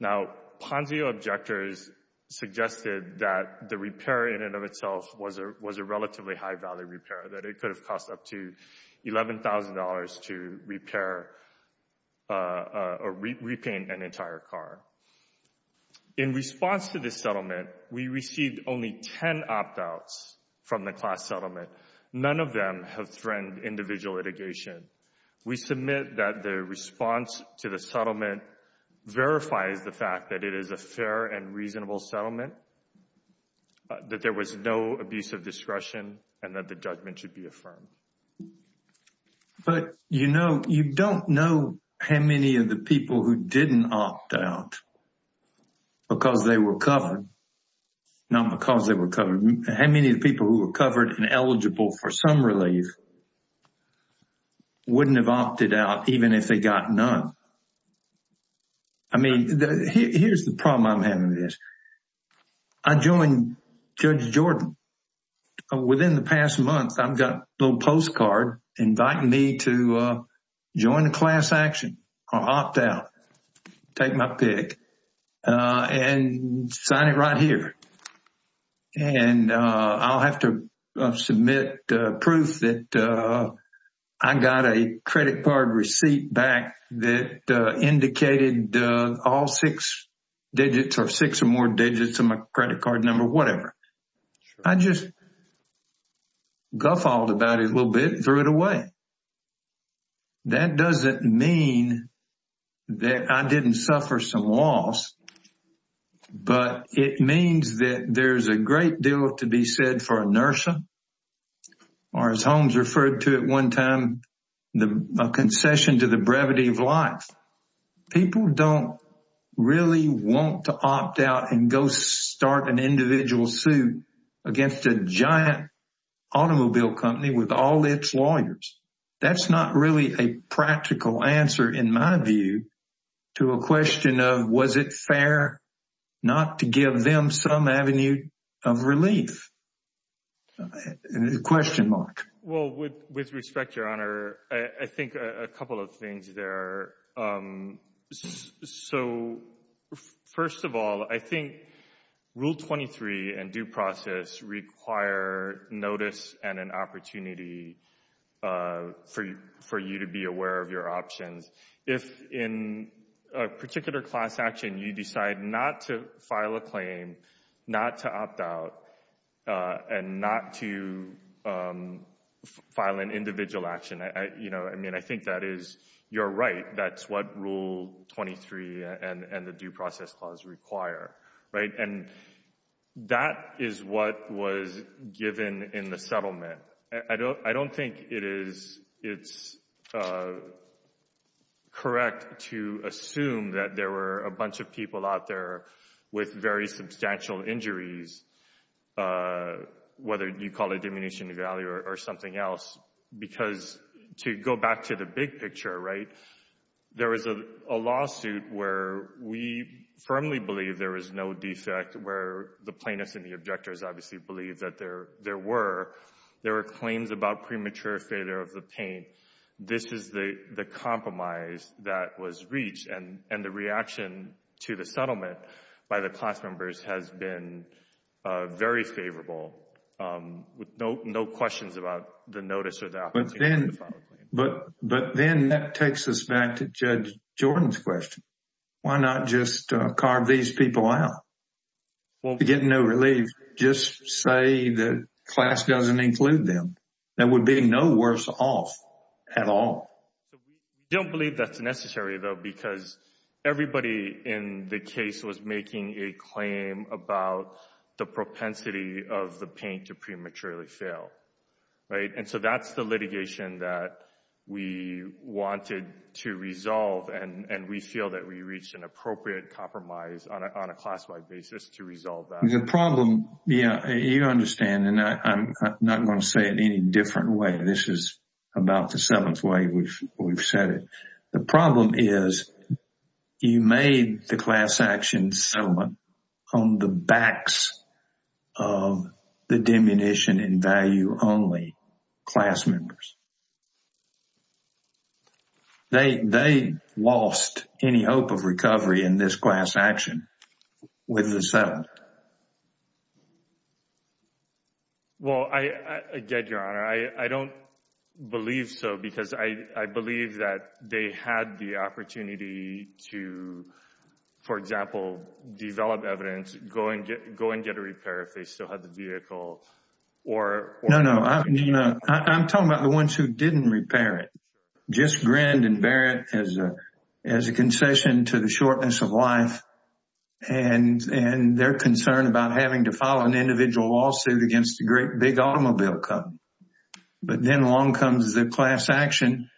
Now, Ponzio objectors suggested that the repair in and of itself was a relatively high-value repair, that it could have cost up to $11,000 to repair or repaint an entire car. In response to this settlement, we received only 10 opt-outs from the class settlement. None of them have threatened individual litigation. We submit that the response to the settlement verifies the fact that it is a fair and reasonable settlement, that there was no abuse of discretion, and that the judgment should be affirmed. But you don't know how many of the people who didn't opt out because they were covered, not because they were covered. How many of the people who were covered and eligible for some relief wouldn't have opted out even if they got none? I mean, here's the problem I'm having with this. I joined Judge Jordan. Within the past month, I've got a little postcard inviting me to join the class action or opt out, take my pick, and sign it right here. And I'll have to submit proof that I got a credit card receipt back that indicated all six digits or six or more digits of my credit card number, whatever. I just guffawed about it a little bit and threw it away. That doesn't mean that I didn't suffer some loss, but it means that there's a great deal to be said for inertia, or as Holmes referred to at one time, the concession to the brevity of life. People don't really want to opt out and go start an individual suit against a giant automobile company with all its lawyers. That's not really a practical answer in my view to a question of was it fair not to give them some avenue of relief? A question mark. Well, with respect, Your Honor, I think a couple of things there. So first of all, I think Rule 23 and due process require notice and an opportunity for you to be aware of your options. If in a particular class action, you decide not to write, that's what Rule 23 and the due process clause require. And that is what was given in the settlement. I don't think it's correct to assume that there were a bunch of people out there with very substantial injuries, whether you call it diminution of value or something else, because to go back to the big picture, right, there is a lawsuit where we firmly believe there is no defect, where the plaintiffs and the objectors obviously believe that there were. There were claims about premature failure of the paint. This is the compromise that was reached, and the reaction to the settlement by the class members has been very favorable. With no questions about the notice of that. But then that takes us back to Judge Jordan's question. Why not just carve these people out? Well, to get no relief, just say that class doesn't include them. That would be no worse off at all. I don't believe that's necessary, though, because everybody in the case was making a claim about the propensity of the paint to prematurely fail, right? So that's the litigation that we wanted to resolve, and we feel that we reached an appropriate compromise on a class-wide basis to resolve that. The problem, yeah, you understand, and I'm not going to say it any different way. This is about the seventh way we've said it. The problem is you made the class action settlement on the backs of the diminution-in-value-only class members. They lost any hope of recovery in this class action with the settlement. Well, again, Your Honor, I don't believe so, because I believe that they had the opportunity to, for example, develop evidence, go and get a repair, if they still had the vehicle, or... No, no. I'm talking about the ones who didn't repair it, just grand and bear it as a concession to the shortness of life, and they're concerned about having to file an individual lawsuit against the great big automobile company. But then along comes the class action,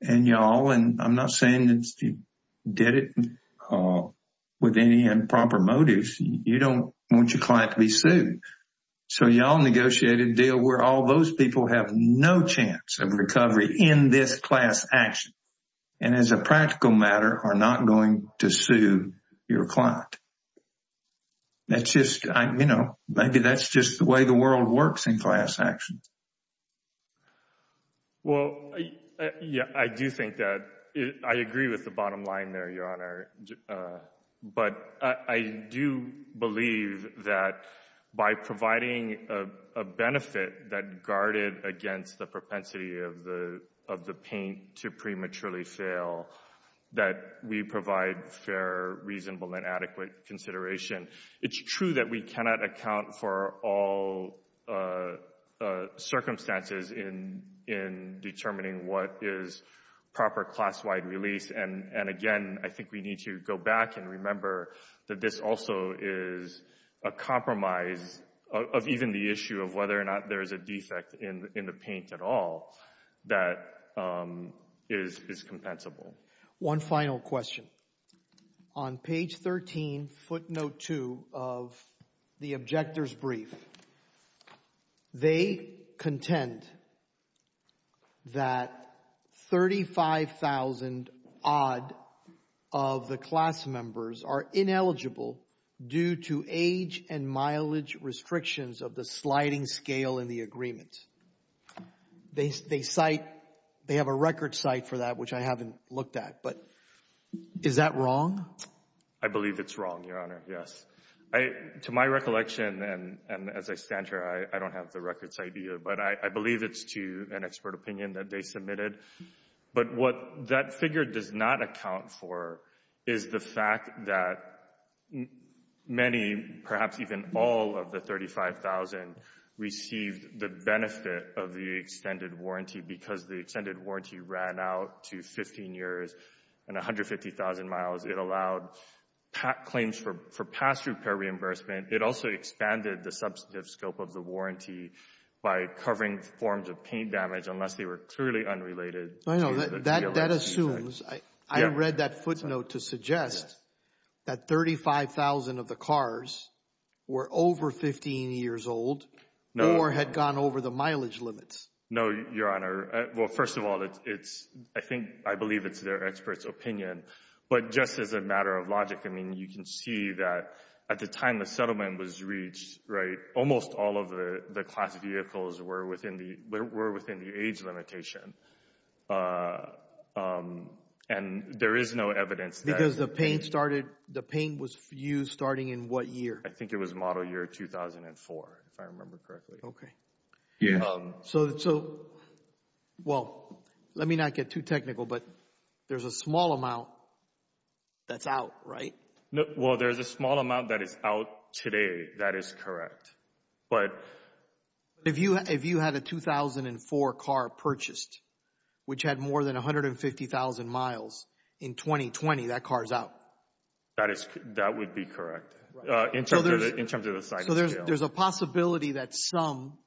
and y'all, and I'm not saying that you did it with any improper motives. You don't want your client to be sued. So y'all negotiated a deal where all those people have no chance of recovery in this class action, and as a practical matter, are not going to sue your client. That's just... Maybe that's just the way the world works in class action. Well, yeah, I do think that... I agree with the bottom line there, Your Honor. But I do believe that by providing a benefit that guarded against the propensity of the paint to prematurely fail, that we provide fair, reasonable, and adequate consideration. It's true that we cannot account for all circumstances in determining what is a defect. We need to go back and remember that this also is a compromise of even the issue of whether or not there's a defect in the paint at all that is compensable. One final question. On page 13, footnote 2 of the objector's brief, they contend that 35,000-odd of the class members are ineligible due to age and mileage restrictions of the sliding scale in the agreements. They cite... They have a record cite for that, which I haven't looked at, but is that wrong? I believe it's wrong, Your Honor, yes. To my recollection, and as I stand here, I don't have the record cite either, but I believe it's to an expert opinion that they submitted. But what that figure does not account for is the fact that many, perhaps even all of the 35,000 received the benefit of the extended warranty because the extended warranty ran out to 15 years and 150,000 miles. It allowed claims for past repair reimbursement. It also expanded the substantive scope of the warranty by covering forms of paint damage unless they were truly unrelated. I know. That assumes... I read that footnote to suggest that 35,000 of the cars were over 15 years old or had gone over the mileage limits. No, Your Honor. Well, first of all, I believe it's their expert's opinion, but just as a matter of logic, I mean, you can see that at the time the settlement was reached, right, almost all of the class vehicles were within the age limitation. And there is no evidence that... Because the paint started... The paint was used starting in what year? I think it was model year 2004, if I remember correctly. Okay. So, well, let me not get too technical, but there's a small amount that's out, right? Well, there's a small amount that is out today. That is correct. But... If you had a 2004 car purchased, which had more than 150,000 miles in 2020, that car is out. That would be correct in terms of the size of the jail. There's a possibility that some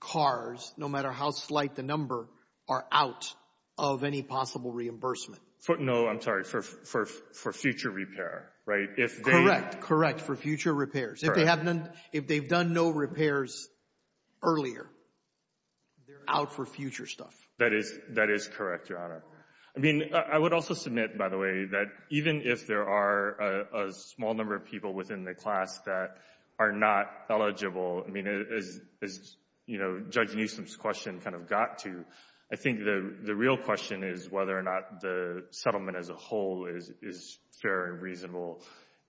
cars, no matter how slight the number, are out of any possible reimbursement. No, I'm sorry. For future repair, right? Correct. Correct. For future repairs. If they've done no repairs earlier, they're out for future stuff. That is correct, Your Honor. I mean, I would also submit, by the way, that even if there are a small number of people within the class that are not eligible, I mean, as Judge Newsom's question kind of got to, I think the real question is whether or not the settlement as a whole is fair and reasonable,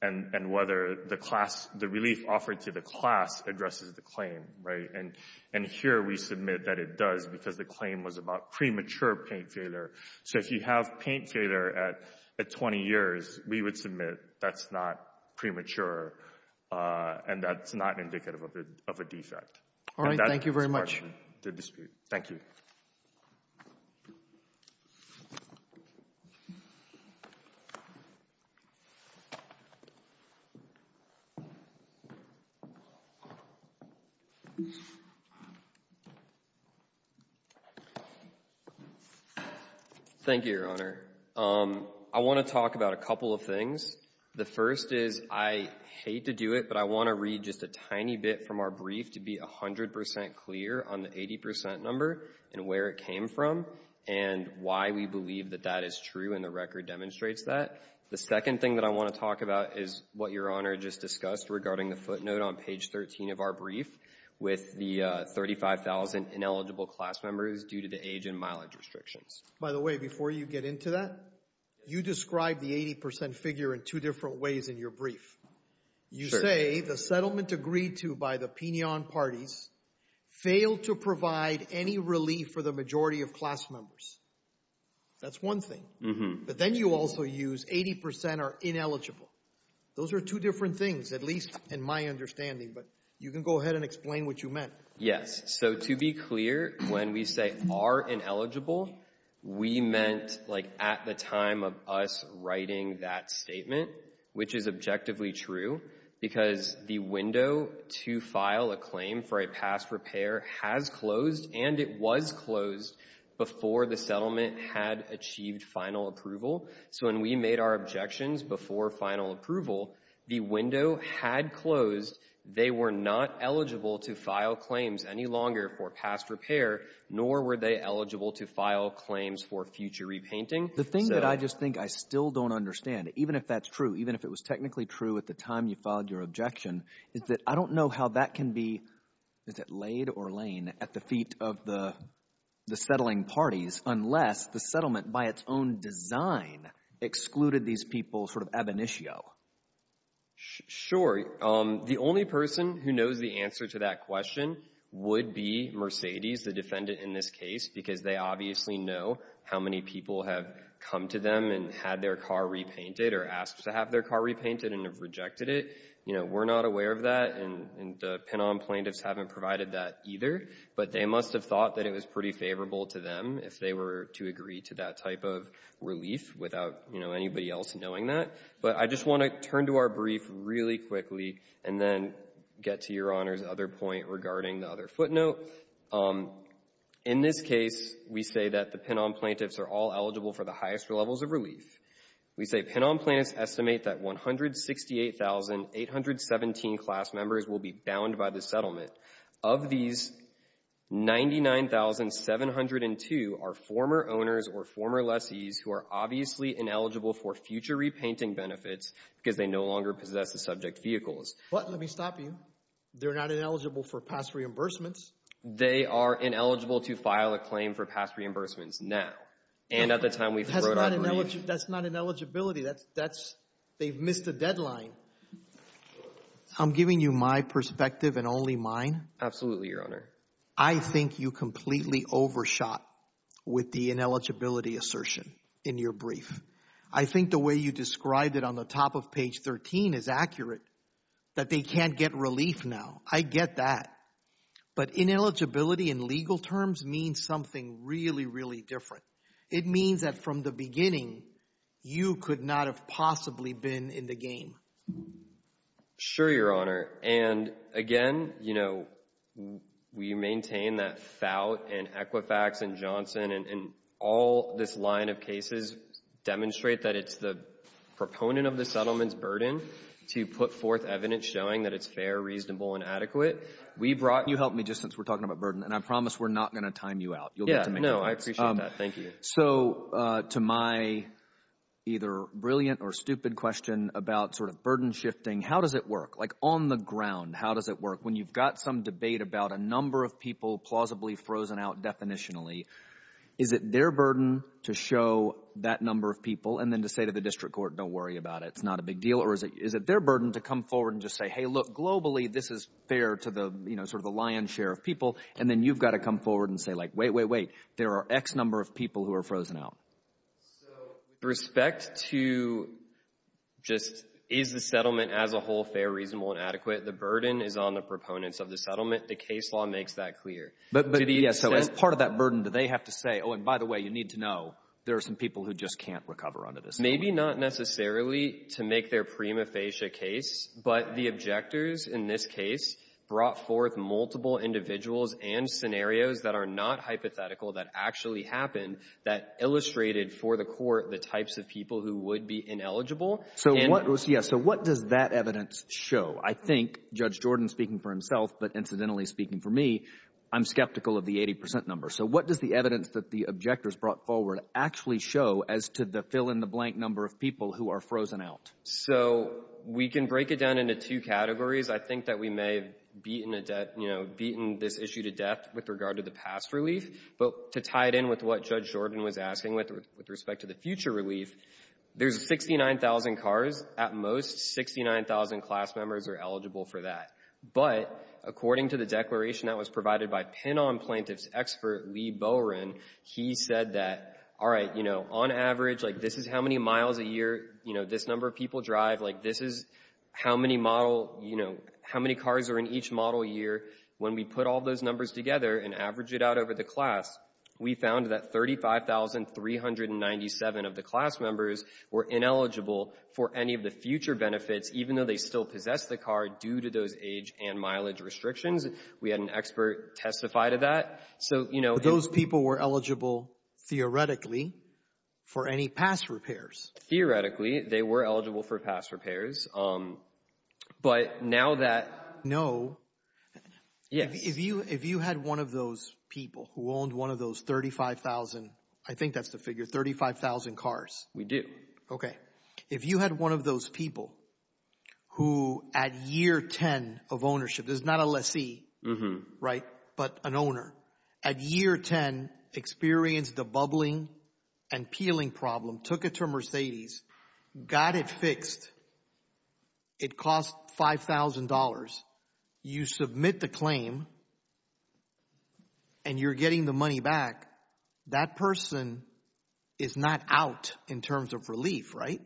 and whether the release offered to the class addresses the claim, right? And here, we submit that it does because the claim was about premature paint failure. So if you have paint failure at 20 years, we would submit that's not premature, and that's not indicative of a defect. All right. Thank you very much. Thank you. Thank you, Your Honor. I want to talk about a couple of things. The first is I hate to do it, but I want to read just a tiny bit from our brief to be 100 percent clear on the 80 percent number and where it came from and why we believe that that is true, and the record demonstrates that. The second thing that I want to talk about is what Your Honor just discussed regarding the footnote on page 13 of our brief with the 35,000 ineligible class members due to the age and mileage restrictions. By the way, before you get into that, you described the 80 percent figure in two different ways in your brief. You say the settlement agreed to by the pignon parties failed to provide any relief for the majority of class members. That's one thing, but then you also use 80 percent are ineligible. Those are two different things, at least in my understanding, but you can go ahead and explain what you meant. Yes. So to be clear, when we say are ineligible, we meant like at the time of us writing that statement, which is objectively true because the window to file a claim for a past repair has closed and it was closed before the settlement had achieved final approval. So when we made our objections before final approval, the window had closed. They were not eligible to file claims any longer for past repair, nor were they eligible to file claims for future repainting. The thing that I just think I still don't understand, even if that's true, even if it was technically true at the time you filed your objection, is that I don't know how that can be laid or lain at the feet of the settling parties unless the settlement by its own design excluded these people sort of ab initio. Sure. The only person who knows the answer to that question would be Mercedes, the defendant in this case, because they obviously know how many people have come to them and had their car repainted or asked to have their car repainted and have rejected it. You know, we're not aware of that, and the PENOM plaintiffs haven't provided that either, but they must have thought that it was pretty favorable to them if they were to agree to that type of relief without, you know, turn to our brief really quickly and then get to Your Honor's other point regarding the other footnote. In this case, we say that the PENOM plaintiffs are all eligible for the highest levels of relief. We say PENOM plaintiffs estimate that 168,817 class members will be bound by the settlement. Of these, 99,702 are former owners or former lessees who are obviously ineligible for future repainting benefits because they no longer possess the subject vehicles. But let me stop you. They're not ineligible for past reimbursements. They are ineligible to file a claim for past reimbursements now, and at the time we wrote our brief. That's not ineligibility. They've missed the deadline. I'm giving you my perspective and only mine. Absolutely, Your Honor. I think you completely overshot with the ineligibility assertion in your brief. I think the way you described it on the top of page 13 is accurate, that they can't get relief now. I get that. But ineligibility in legal terms means something really, really different. It means that from the beginning, you could not have possibly been in the game. Sure, Your Honor. And again, you know, we maintain that FOUT and Equifax and Johnson and all this line of cases demonstrate that it's the proponent of the settlement's burden to put forth evidence showing that it's fair, reasonable, and adequate. We brought – you helped me just since we're talking about burden, and I promise we're not going to time you out. Yeah, no, I appreciate that. Thank you. So to my either brilliant or stupid question about sort of burden shifting, how does it work? Like on the ground, how does it work? When you've got some debate about a number of people plausibly frozen out definitionally, is it their burden to show that number of people and then to say to the district court, don't worry about it, it's not a big deal? Or is it their burden to come forward and just say, hey, look, globally, this is fair to the, you know, sort of the lion's share of people. And then you've got to come forward and say, like, wait, wait, wait, there are X number of people who are frozen out. So with respect to just is the settlement as a whole fair, reasonable, and adequate, the burden is on the proponents of the settlement. The case law makes that clear. But part of that burden that they have to say, oh, and by the way, you need to know there are some people who just can't recover under this. Maybe not necessarily to make their prima facie case, but the objectors in this case brought forth multiple individuals and scenarios that are not hypothetical that actually happened that illustrated for the court, the types of people who would be ineligible. So what was yes. So what does that evidence show? I think Judge Jordan speaking for himself, but incidentally speaking for me, I'm skeptical of the 80% number. So what does the evidence that the objectors brought forward actually show as to the fill in the blank number of people who are frozen out? So we can break it down into two categories. I think that we may have beaten a death, you know, beaten this issue to death with regard to the past relief, but to tie it in with what Judge Jordan was asking with respect to the future relief, there's 69,000 cars at most 69,000 class members are eligible for that. But according to the declaration that was provided by pin on plaintiff's expert, Lee Bowren, he said that, all right, you know, on average, like this is how many miles a year, you know, this number of people drive, like this is how many model, you know, how many cars are in each model year. When we put all those numbers together and average it out over the class, we found that 35,397 of the class members were ineligible for any of the future benefits, even though they still possess the car due to those age and mileage restrictions. We had an expert testify to that. So, you know, those people were eligible theoretically for any past repairs. Theoretically, they were eligible for past repairs. But now that. No. Yeah. If you if you had one of those people who owned one of those 35,000, I think that's the figure 35,000 cars. We do. OK. If you had one of those people who at year 10 of ownership, there's not a lessee. Right. But an owner at year 10 experienced a bubbling and peeling problem, took it to Mercedes, got it fixed. It cost five thousand dollars. You submit the claim. And you're getting the money back. That person is not out in terms of relief. Right.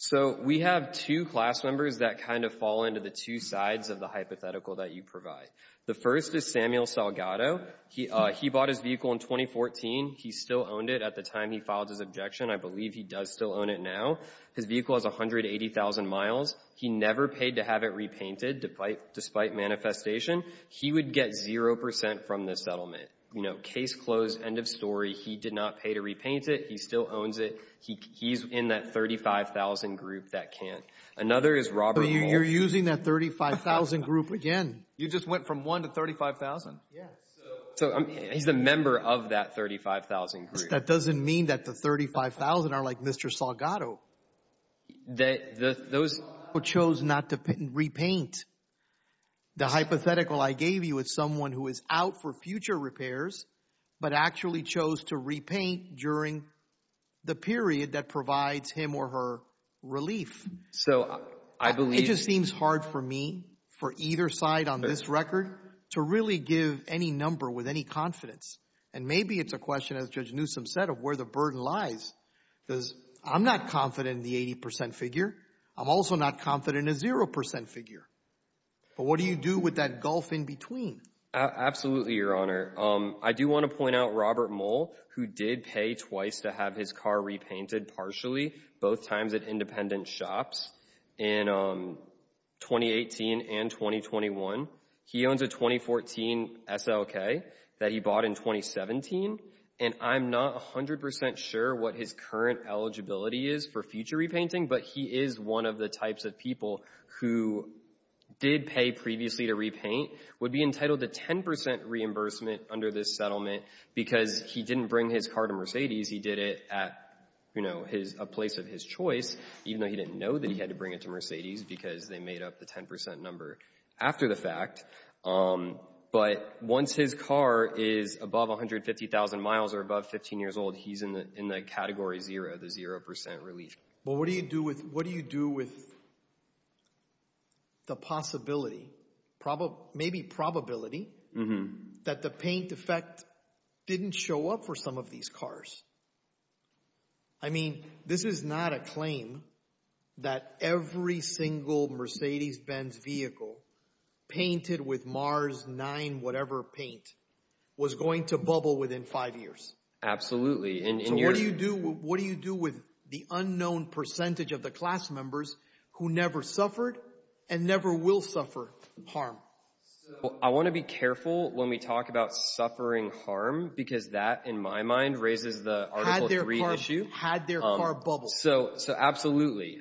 So we have two class members that kind of fall into the two sides of the hypothetical that you provide. The first is Samuel Salgado. He he bought his vehicle in 2014. He still owned it at the time he filed his objection. I believe he does still own it now. His vehicle is 180,000 miles. He never paid to have it repainted. Despite despite manifestation, he would get zero percent from this settlement. You know, case closed. End of story. He did not pay to repaint it. He still owns it. He he's in that 35,000 group that can't. Another is Robert. You're using that 35,000 group again. You just went from one to 35,000. Yeah. So he's a member of that 35,000. That doesn't mean that the 35,000 are like Mr. Salgado, that those chose not to repaint the hypothetical I gave you with someone who is out for future repairs, but actually chose to repaint during the period that provides him or her relief. So I believe it seems hard for me for either side on this record to really give any number with any confidence. And maybe it's a set of where the burden lies because I'm not confident in the 80 percent figure. I'm also not confident in a zero percent figure. But what do you do with that gulf in between? Absolutely, your honor. I do want to point out Robert Mole, who did pay twice to have his car repainted partially, both times at independent shops in twenty eighteen and twenty twenty one. He owns a twenty fourteen SLK that he bought in twenty seventeen. And I'm not a hundred percent sure what his current eligibility is for future repainting, but he is one of the types of people who did pay previously to repaint would be entitled to ten percent reimbursement under this settlement because he didn't bring his car to Mercedes. He did it at a place of his choice, even though he didn't know that he had to bring it to Mercedes because they made up the ten percent number after the fact. But once his car is above one hundred fifty thousand miles or above 15 years old, he's in the in the category zero, the zero percent relief. Well, what do you do with what do you do with. The possibility, probably maybe probability that the paint effect didn't show up for some of these cars. I mean, this is not a claim that every single Mercedes Benz vehicle painted with Mars nine, whatever paint was going to bubble within five years. Absolutely. And what do you do? What do you do with the unknown percentage of the class members who never suffered and never will suffer harm? I want to be careful when we talk about suffering harm, because that, in my mind, raises the issue had their bubble. So absolutely.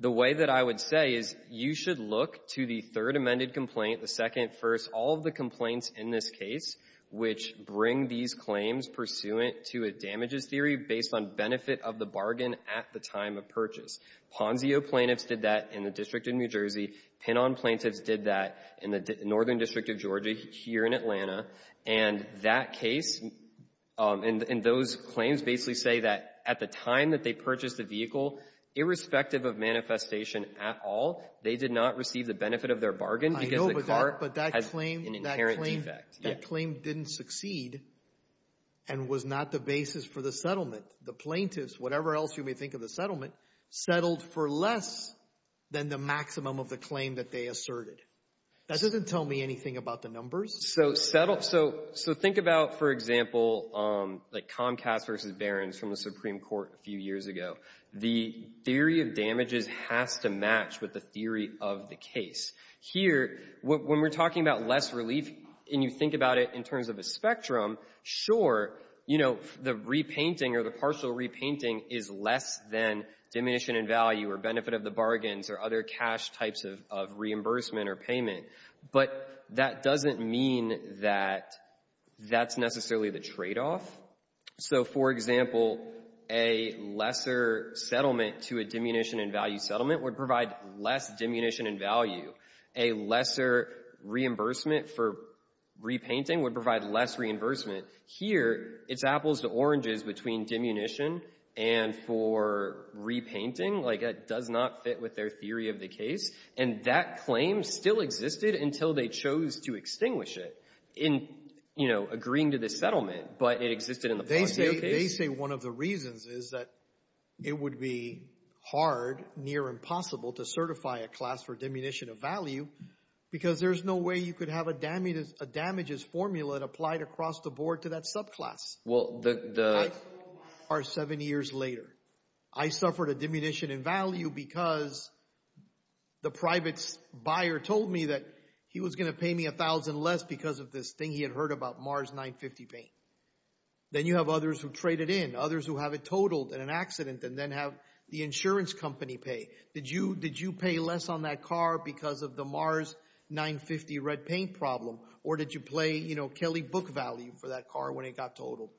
The way that I would say is you should look to the third amended complaint, the second, first, all of the complaints in this case, which bring these claims pursuant to a damages theory based on benefit of the bargain at the time of purchase. Ponzio plaintiffs did that in the District of New Jersey. Tenon plaintiffs did that in the northern district of Georgia here in Atlanta. And that case and those claims basically say that at the time that they purchased the vehicle, irrespective of manifestation at all, they did not receive the benefit of their bargain. I know, but that claim didn't succeed and was not the basis for the settlement. The plaintiffs, whatever else you may think of the settlement, settled for less than the claim that they asserted. That doesn't tell me anything about the numbers. So think about, for example, like Comcast versus Barron from the Supreme Court a few years ago. The theory of damages has to match with the theory of the case. Here, when we're talking about less relief, and you think about it in terms of a spectrum, sure, the repainting or the partial repainting is less than diminution in value or benefit of the bargains or other cash types of reimbursement or payment. But that doesn't mean that that's necessarily the tradeoff. So for example, a lesser settlement to a diminution in value settlement would provide less diminution in value. A lesser reimbursement for repainting would provide less reimbursement. Here, it's apples to oranges between diminution and for repainting. Like that does not fit with their theory of the case. And that claim still existed until they chose to extinguish it in agreeing to the settlement, but it existed in the past. They say one of the reasons is that it would be hard, near impossible to certify a class for diminution of value, because there's no way you could have a damages formula applied across the board to that subclass. Well, the... the private buyer told me that he was going to pay me $1,000 less because of this thing he had heard about, Mars 950 paint. Then you have others who traded in, others who have it totaled in an accident and then have the insurance company pay. Did you pay less on that car because of the Mars 950 red paint problem? Or did you play, you know, Kelly Book value for that car when it got totaled?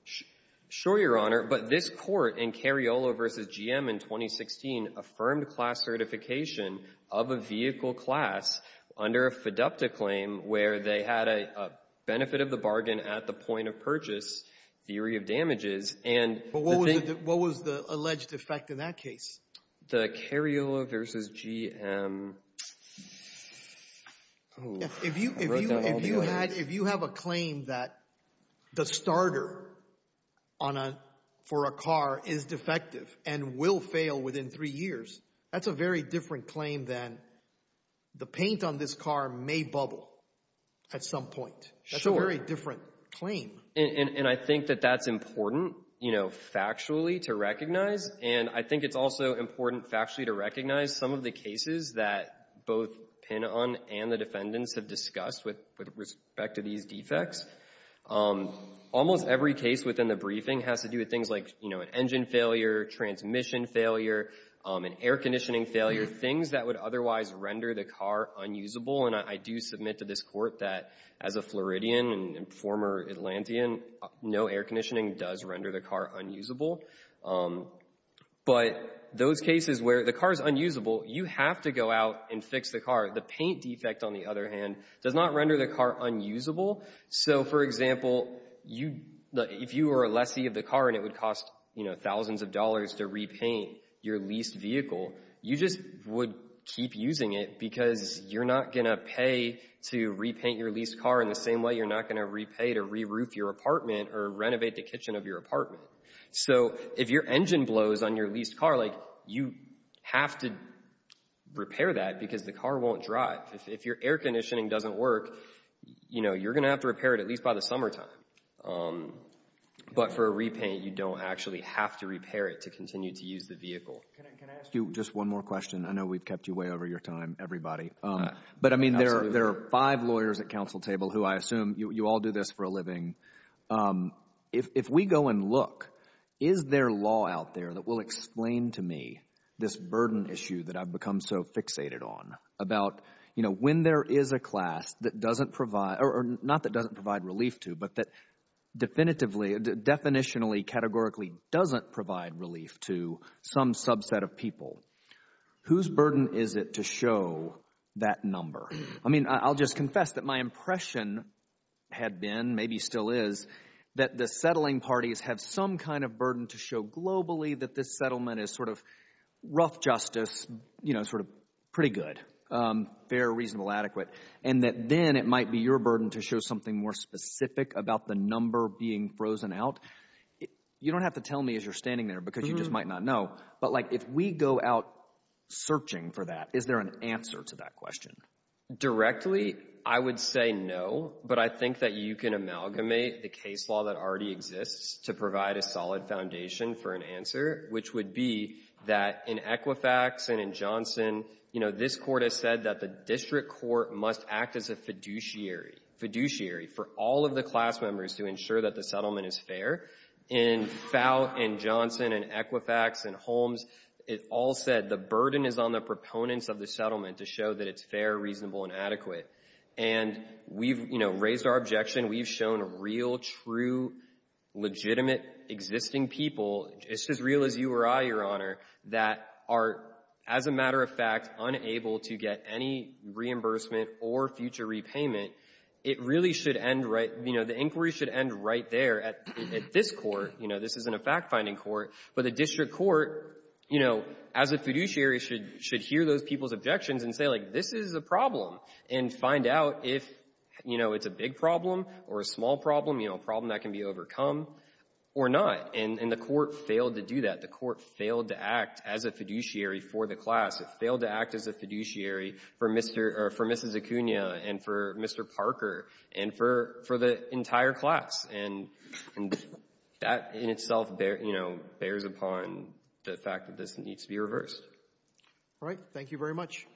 Sure, Your Honor. But this court in Cariola versus GM in 2016 affirmed class certification of a vehicle class under a FIDUPTA claim where they had a benefit of the bargain at the point of purchase, theory of damages, and... But what was the alleged effect in that case? The Cariola versus GM... If you had... if you have a claim that the starter on a... for a car is defective and will fail within three years, that's a very different claim than the paint on this car may bubble at some point. That's a very different claim. And I think that that's important, you know, factually to recognize. And I think it's also important factually to recognize some of the cases that both Pinon and the defendants have discussed with respect to these defects. Almost every case within the briefing has to do with things like, you know, an engine failure, transmission failure, an air conditioning failure, things that would otherwise render the car unusable. And I do submit to this court that as a Floridian and former Atlantean, no air conditioning does render the car unusable. But those cases where the car is unusable, you have to go out and fix the car. The paint defect, on the other hand, does not render the car unusable. So, for example, if you were a lessee of the car and it would cost, you know, thousands of dollars to repaint your leased vehicle, you just would keep using it because you're not going to pay to repaint your leased car in the same way you're not going to repay to re-roof your apartment or renovate the kitchen of your apartment. So, if your engine blows on your leased car, like you have to repair that because the car won't drive. If your air conditioning doesn't work, you know, you're going to have to repair it at least by the summertime. But for a repaint, you don't actually have to repair it to continue to use the vehicle. Can I ask you just one more question? I know we've kept you way over your time, everybody. But I mean, there are five lawyers at counsel table who I assume you all do this for a living. If we go and look, is there law out there that will explain to me this burden issue that I've become so fixated on about, you know, when there is a class that doesn't provide, or not that doesn't provide relief to, but that definitively, definitionally, categorically doesn't provide relief to some subset of people, whose burden is it to show that number? I mean, I'll just confess that my impression had been, maybe still is, that the settling parties have some kind of burden to show globally that this settlement is sort of rough justice, sort of pretty good, fair, reasonable, adequate, and that then it might be your burden to show something more specific about the number being frozen out. You don't have to tell me as you're standing there because you just might not know, but like if we go out searching for that, is there an answer to that question? Directly, I would say no, but I think that you can amalgamate the case law that already exists to provide a solid foundation for an answer, which would be that in Equifax and in Johnson, you know, this court has said that the district court must act as a fiduciary, fiduciary for all of the class members to ensure that the settlement is fair. In FOUT and Johnson and Equifax and Holmes, it all said the burden is on the proponents of the reasonable and adequate, and we've, you know, raised our objection. We've shown real, true, legitimate existing people, just as real as you or I, Your Honor, that are, as a matter of fact, unable to get any reimbursement or future repayment. It really should end right, you know, the inquiry should end right there at this court. You know, this isn't a fact-finding court, but the district court, you know, as a fiduciary should hear those people's objections and say, like, this is a problem and find out if, you know, it's a big problem or a small problem, you know, a problem that can be overcome or not. And the court failed to do that. The court failed to act as a fiduciary for the class. It failed to act as a fiduciary for Mr. or for Mrs. Acuna and for Mr. Parker and for the entire class. And that in itself, you know, bears upon the fact that this needs to be reversed. All right. Thank you very much.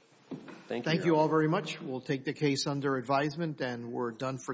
Thank you all very much. We'll take the case under advisement and we're done for today.